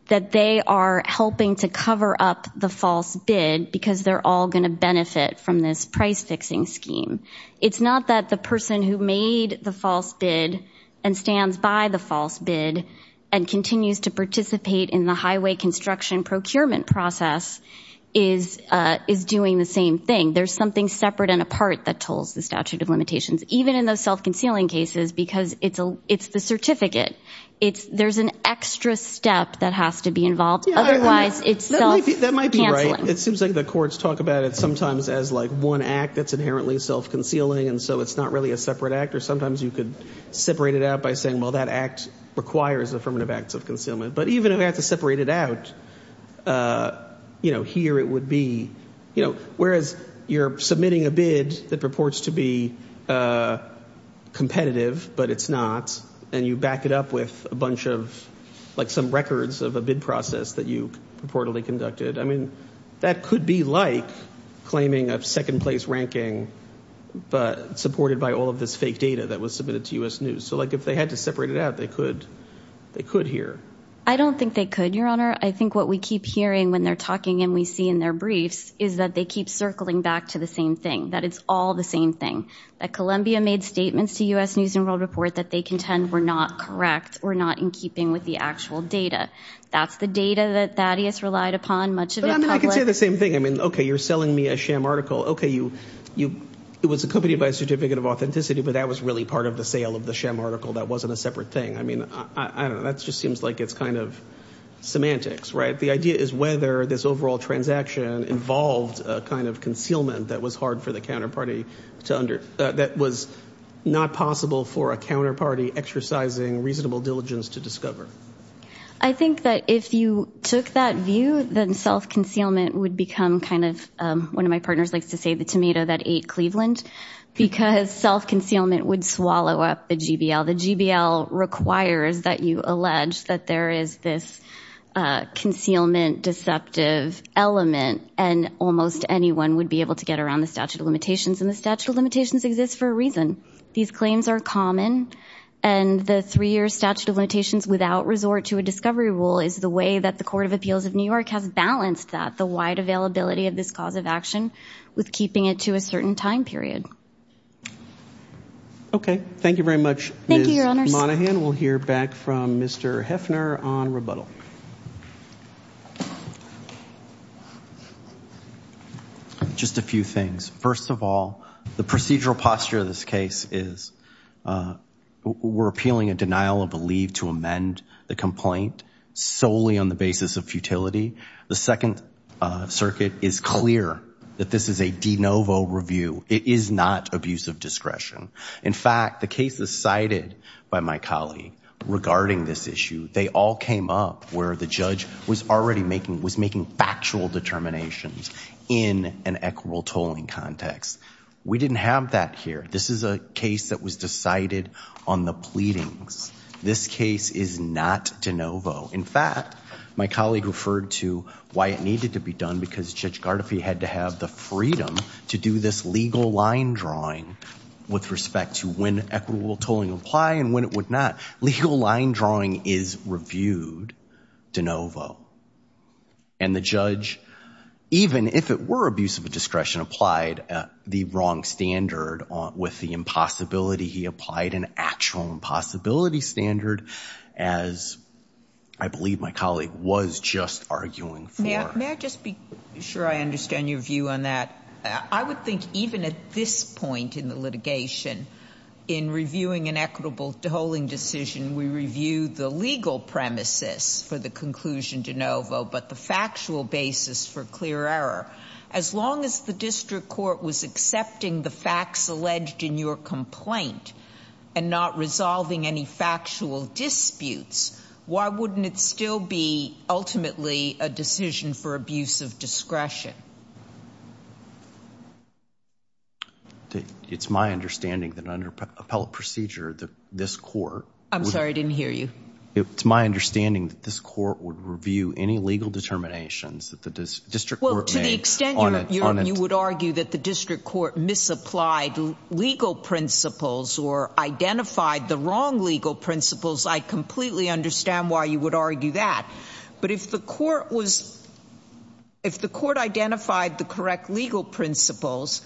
that they are helping to cover up the false bid because they're all going to benefit from this price fixing scheme it's not that the person who made the false bid and stands by the false bid and continues to participate in the highway construction procurement process is is doing the same thing there's something separate and apart that tolls the statute of limitations even in those self-concealing cases because it's a it's the certificate it's there's an extra step that has to be involved otherwise it's that might be right it seems like the courts talk about it sometimes as like one act that's inherently self-concealing and so it's not really a separate act or sometimes you could separate it out by saying well that act requires affirmative acts of concealment but even if I had to separate it out you know here it would be you know whereas you're submitting a bid that purports to be competitive but it's not and you back it up with a bunch of like some records of a bid process that you reportedly conducted I mean that could be like claiming a second-place ranking but supported by all of this fake data that was submitted to US News so like if they had to separate it out they could they could hear I don't think they could your honor I think what we keep hearing when they're talking and we see in their briefs is that they keep circling back to the same thing that it's all the same thing that Columbia made statements to US News and World Report that they contend were not correct we're not in keeping with the actual data that's the data that Thaddeus relied upon much of the same thing I mean okay you're selling me a sham article okay you you it was accompanied by a certificate of authenticity but that was really part of the sale of the sham article that wasn't a separate thing I mean I don't know that's just seems like it's kind of semantics right the idea is whether this overall transaction involved a kind of concealment that was hard for the counterparty to under that was not possible for a counterparty exercising reasonable diligence to discover I think that if you took that view then self-concealment would become kind of one of my partners likes to say the tomato that ate Cleveland because self-concealment would swallow up the GBL the GBL requires that you allege that there is this concealment deceptive element and almost anyone would be able to get around the statute of limitations and the statute of limitations exists for a reason these claims are common and the three-year statute of limitations without resort to a discovery rule is the way that the Court of Appeals of New York has balanced that the wide availability of this cause of action with keeping it to a certain time period okay thank you very much Monahan we'll hear back from mr. Hefner on rebuttal just a few things first of all the procedural posture of this case is we're appealing a denial of a leave to amend the complaint solely on the basis of futility the Second Circuit is clear that this is a de novo review it is not abuse of discretion in fact the case is cited by my colleague regarding this issue they all came up where the judge was already making was making factual determinations in an equitable tolling context we didn't have that here this is a case that was decided on the pleadings this case is not de novo in fact my colleague referred to why it to be done because judge Gardefee had to have the freedom to do this legal line drawing with respect to when equitable tolling apply and when it would not legal line drawing is reviewed de novo and the judge even if it were abuse of a discretion applied the wrong standard on with the impossibility he applied an actual impossibility standard as I believe my colleague was just arguing for. May I just be sure I understand your view on that I would think even at this point in the litigation in reviewing an equitable tolling decision we review the legal premises for the conclusion de novo but the factual basis for clear error as long as the district court was accepting the facts alleged in your complaint and not resolving any factual disputes why wouldn't it still be ultimately a decision for abuse of discretion. It's my understanding that under appellate procedure that this court I'm sorry I didn't hear you it's my understanding that this court would review any legal determinations that the district court made on it. To the extent you would argue that the district court misapplied legal principles or identified the wrong legal principles I completely understand why you would argue that but if the court was if the court identified the correct legal principles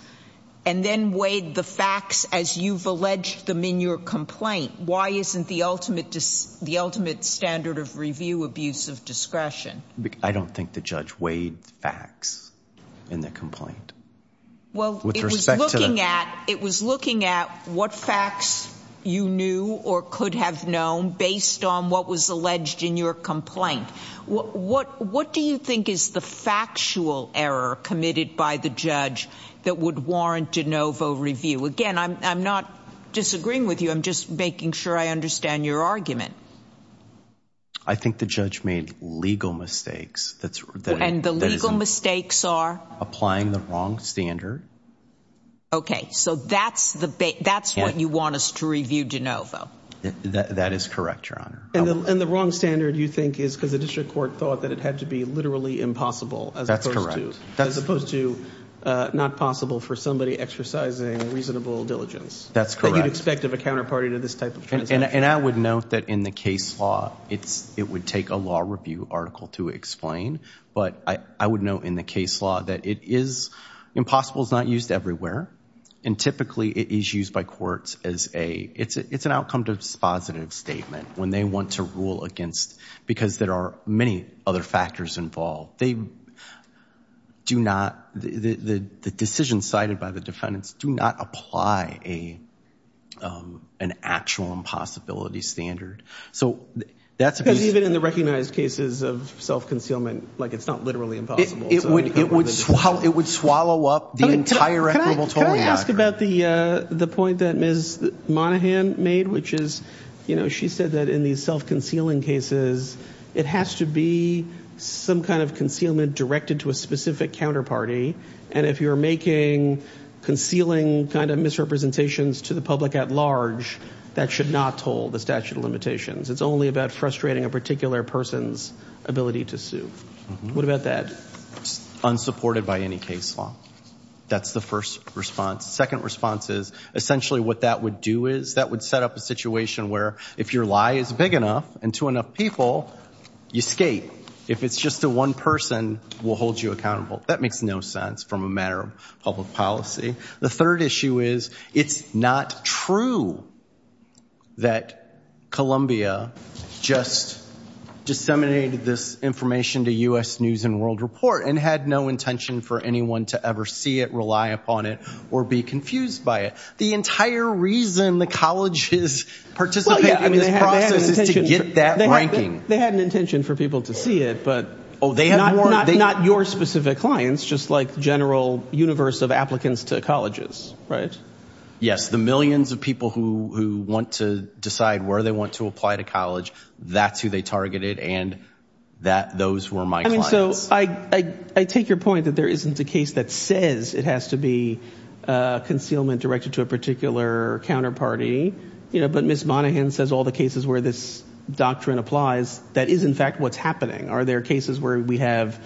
and then weighed the facts as you've alleged them in your complaint why isn't the ultimate standard of review abuse of discretion. I don't think the judge weighed facts in the complaint. Well it was looking at what facts you knew or could have known based on what was alleged in your complaint what what what do you think is the factual error committed by the judge that would warrant de novo review again I'm not disagreeing with you I'm just making sure I understand your argument. I think the judge made legal mistakes. And the legal mistakes are? Applying the wrong standard. Okay so that's the that's what you want us to view de novo. That is correct your honor. And the wrong standard you think is because the district court thought that it had to be literally impossible. That's correct. As opposed to not possible for somebody exercising reasonable diligence. That's correct. You'd expect of a counterparty to this type of case. And I would note that in the case law it's it would take a law review article to explain but I would note in the case law that it is impossible is not used everywhere and typically it is used by courts as a it's it's an outcome dispositive statement when they want to rule against because there are many other factors involved. They do not the the decision cited by the defendants do not apply a an actual impossibility standard. So that's because even in the recognized cases of self-concealment like it's not literally impossible. It would swallow up the entire equitable tolling. Can I ask about the the point that Ms. Monaghan made which is you know she said that in these self-concealing cases it has to be some kind of concealment directed to a specific counterparty and if you're making concealing kind of misrepresentations to the public at large that should not toll the statute of limitations. It's only about frustrating a particular person's ability to sue. What about that? Unsupported by any case law. That's the first response. Second response is essentially what that would do is that would set up a situation where if your lie is big enough and to enough people you skate. If it's just the one person will hold you accountable. That makes no sense from a matter of public policy. The third issue is it's not true that Columbia just disseminated this information to U.S. News and World Report and had no intention for anyone to ever see it rely upon it or be confused by it. The entire reason the college is participating in this process is to get that ranking. They had an intention for people to see it but oh they have not not your specific clients just like general universe of applicants to colleges right? Yes the millions of people who want to decide where they want to apply to college that's who they targeted and that those were my clients. I mean so I take your point that there isn't a case that says it has to be concealment directed to a particular counterparty you know but Miss Monaghan says all the cases where this doctrine applies that is in fact what's happening. Are there cases where we have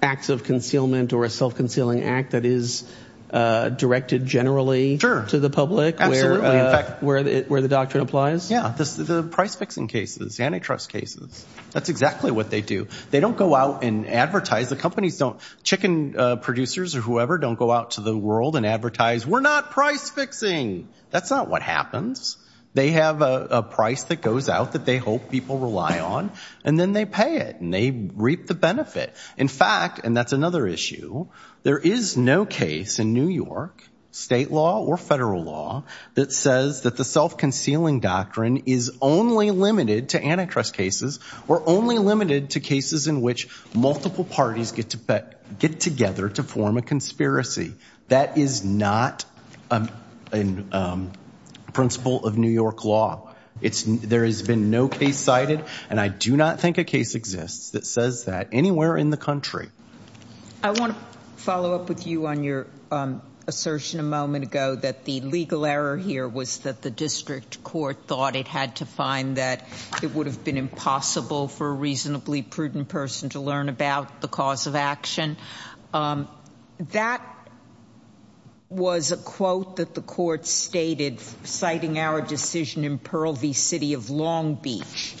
acts of concealment or a self-concealing act that is directed generally to the public where the doctrine applies? Yeah the price-fixing cases antitrust cases that's exactly what they do. They don't go out and advertise the companies don't chicken producers or whoever don't go out to the world and advertise we're not price-fixing that's not what happens. They have a price that goes out that they hope people rely on and then they pay it and they reap the benefit. In fact and that's another issue there is no case in New York state law or federal law that says that the self-concealing doctrine is only limited to antitrust cases or only limited to cases in which multiple parties get to get together to form a conspiracy. That is not a principle of New York law. It's there has been no case cited and I do not think a case exists that says that anywhere in the country. I want to follow up with you on your assertion a moment ago that the legal error here was that the district court thought it had to find that it would have been impossible for a reasonably prudent person to learn about the cause of action. That was a quote that the court stated citing our decision in Pearl V. City of Long Beach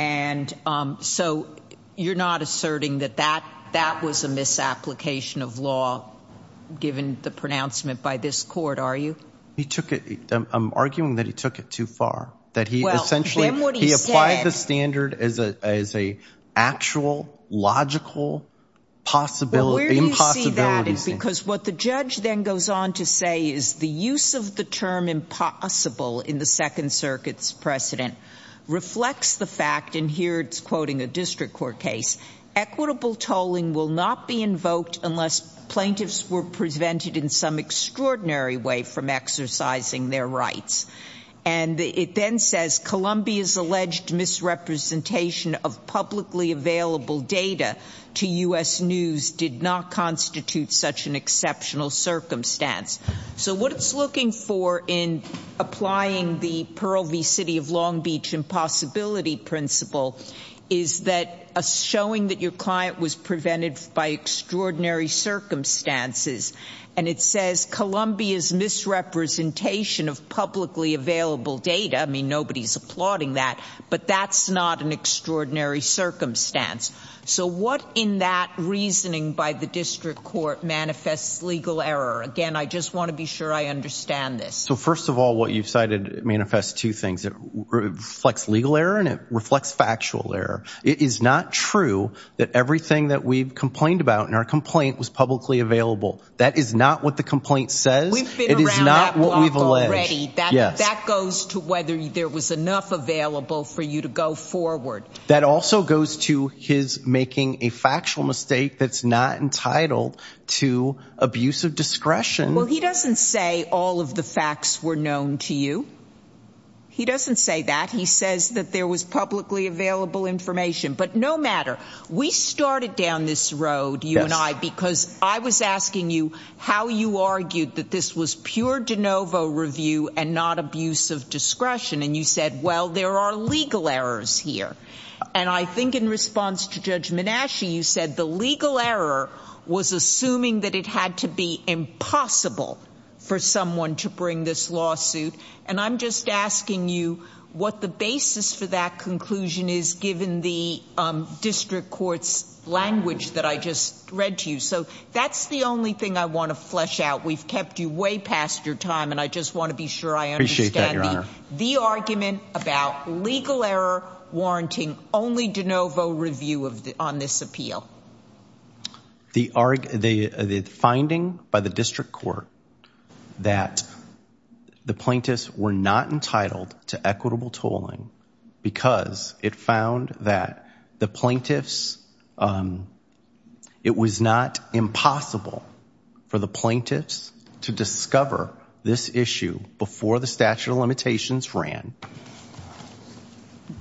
and so you're not asserting that that that was a misapplication of law given the pronouncement by this court are you? He took it I'm arguing that he took it too far that he essentially he applied the standard as a as a actual logical possibility. Where do you see that? Because what the judge then goes on to say is the use of the term impossible in the Second Circuit's precedent reflects the fact and here it's quoting a district court case equitable tolling will not be invoked unless plaintiffs were prevented in some extraordinary way from exercising their rights and it then says Columbia's alleged misrepresentation of publicly available data to US News did not constitute such an exceptional circumstance. So what it's looking for in applying the Pearl V. City of Long Beach impossibility principle is that a showing that your client was prevented by extraordinary circumstances and it says Columbia's misrepresentation of publicly available data I mean nobody's applauding that but that's not an extraordinary circumstance. So what in that reasoning by the district court manifests legal error? Again I just want to be sure I understand this. So first of all what you've cited manifests two things. It reflects legal error and it reflects factual error. It is not true that everything that we've complained about in our complaint was publicly available. That is not what the complaint says. It is not what we've alleged. That goes to whether there was enough available for you to go forward. That also goes to his making a factual mistake that's not entitled to abusive discretion. Well he doesn't say all of the facts were known to you. He doesn't say that. He says that there was publicly available information but no matter. We started down this road you and I because I was asking you how you argued that this was pure de novo review and not abuse of discretion and you said well there are legal errors here and I think in response to Judge Menasche you said the legal error was assuming that it had to be impossible for someone to bring this lawsuit and I'm just asking you what the basis for that conclusion is given the district court's language that I just read to you. So that's the only thing I want to flesh out. We've kept you way past your time and I just want to be sure I understand the argument about legal error warranting only de novo review of on this appeal. The finding by the district court that the plaintiffs were not entitled to equitable tolling because it found that the plaintiffs it was not impossible for the plaintiffs to discover this issue before the statute of limitations ran.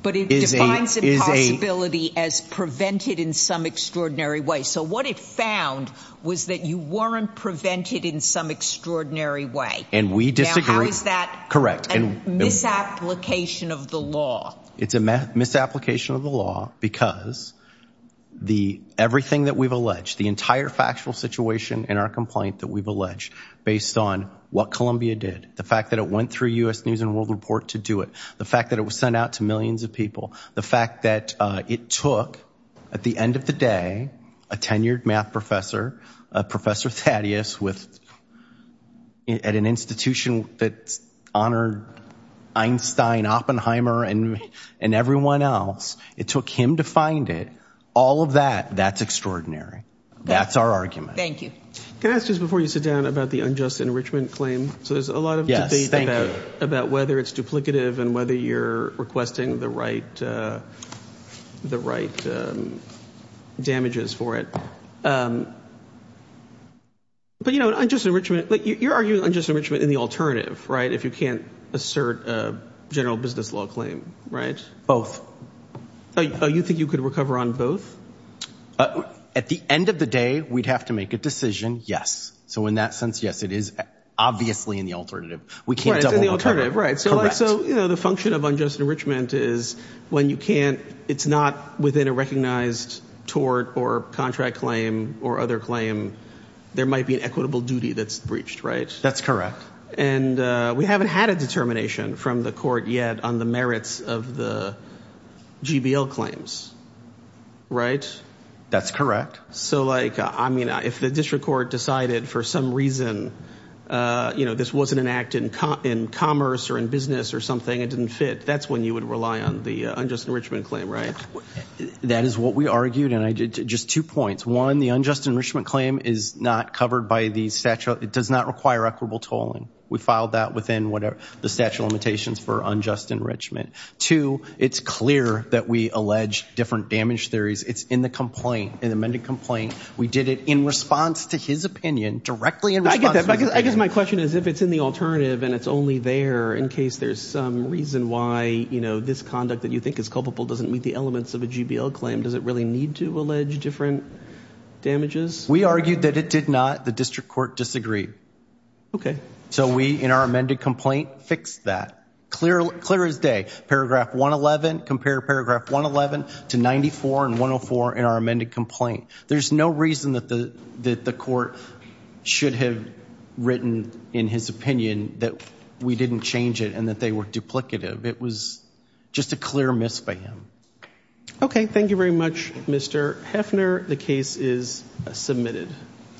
But it was that you weren't prevented in some extraordinary way. And we disagree. How is that correct and misapplication of the law? It's a misapplication of the law because the everything that we've alleged the entire factual situation in our complaint that we've alleged based on what Columbia did. The fact that it went through US News and World Report to do it. The fact that it was sent out to millions of people. The fact that it took at the end of the day a tenured math professor, Professor Thaddeus, at an institution that honored Einstein Oppenheimer and and everyone else. It took him to find it. All of that, that's extraordinary. That's our argument. Thank you. Can I ask just before you sit down about the unjust enrichment claim? So there's a lot of debate about whether it's duplicative and whether you're requesting the right the right damages for it. But you know, unjust enrichment, like you're arguing unjust enrichment in the alternative, right? If you can't assert a general business law claim, right? Both. Oh, you think you could recover on both? At the end of the day we'd have to make a decision, yes. So in that sense, yes, it is obviously in the alternative. We can't double-recover. So the function of unjust enrichment is when you can't, it's not within a recognized tort or contract claim or other claim, there might be an equitable duty that's breached, right? That's correct. And we haven't had a determination from the court yet on the merits of the GBL claims, right? That's correct. So like, I mean, if the district court decided for some reason, you know, this wasn't an act in commerce or in business or it didn't fit, that's when you would rely on the unjust enrichment claim, right? That is what we argued and I did just two points. One, the unjust enrichment claim is not covered by the statute. It does not require equitable tolling. We filed that within whatever the statute of limitations for unjust enrichment. Two, it's clear that we allege different damage theories. It's in the complaint, in the amended complaint. We did it in response to his opinion, directly in response. I guess my question is if it's in the alternative and it's only there in case there's some reason why, you know, this conduct that you think is culpable doesn't meet the elements of a GBL claim, does it really need to allege different damages? We argued that it did not. The district court disagreed. Okay. So we, in our amended complaint, fixed that. Clear as day. Paragraph 111, compare paragraph 111 to 94 and 104 in our amended complaint. There's no reason that the court should have written in his opinion that we didn't change it and that they were duplicative. It was just a clear miss by him. Okay, thank you very much Mr. Heffner. The case is submitted.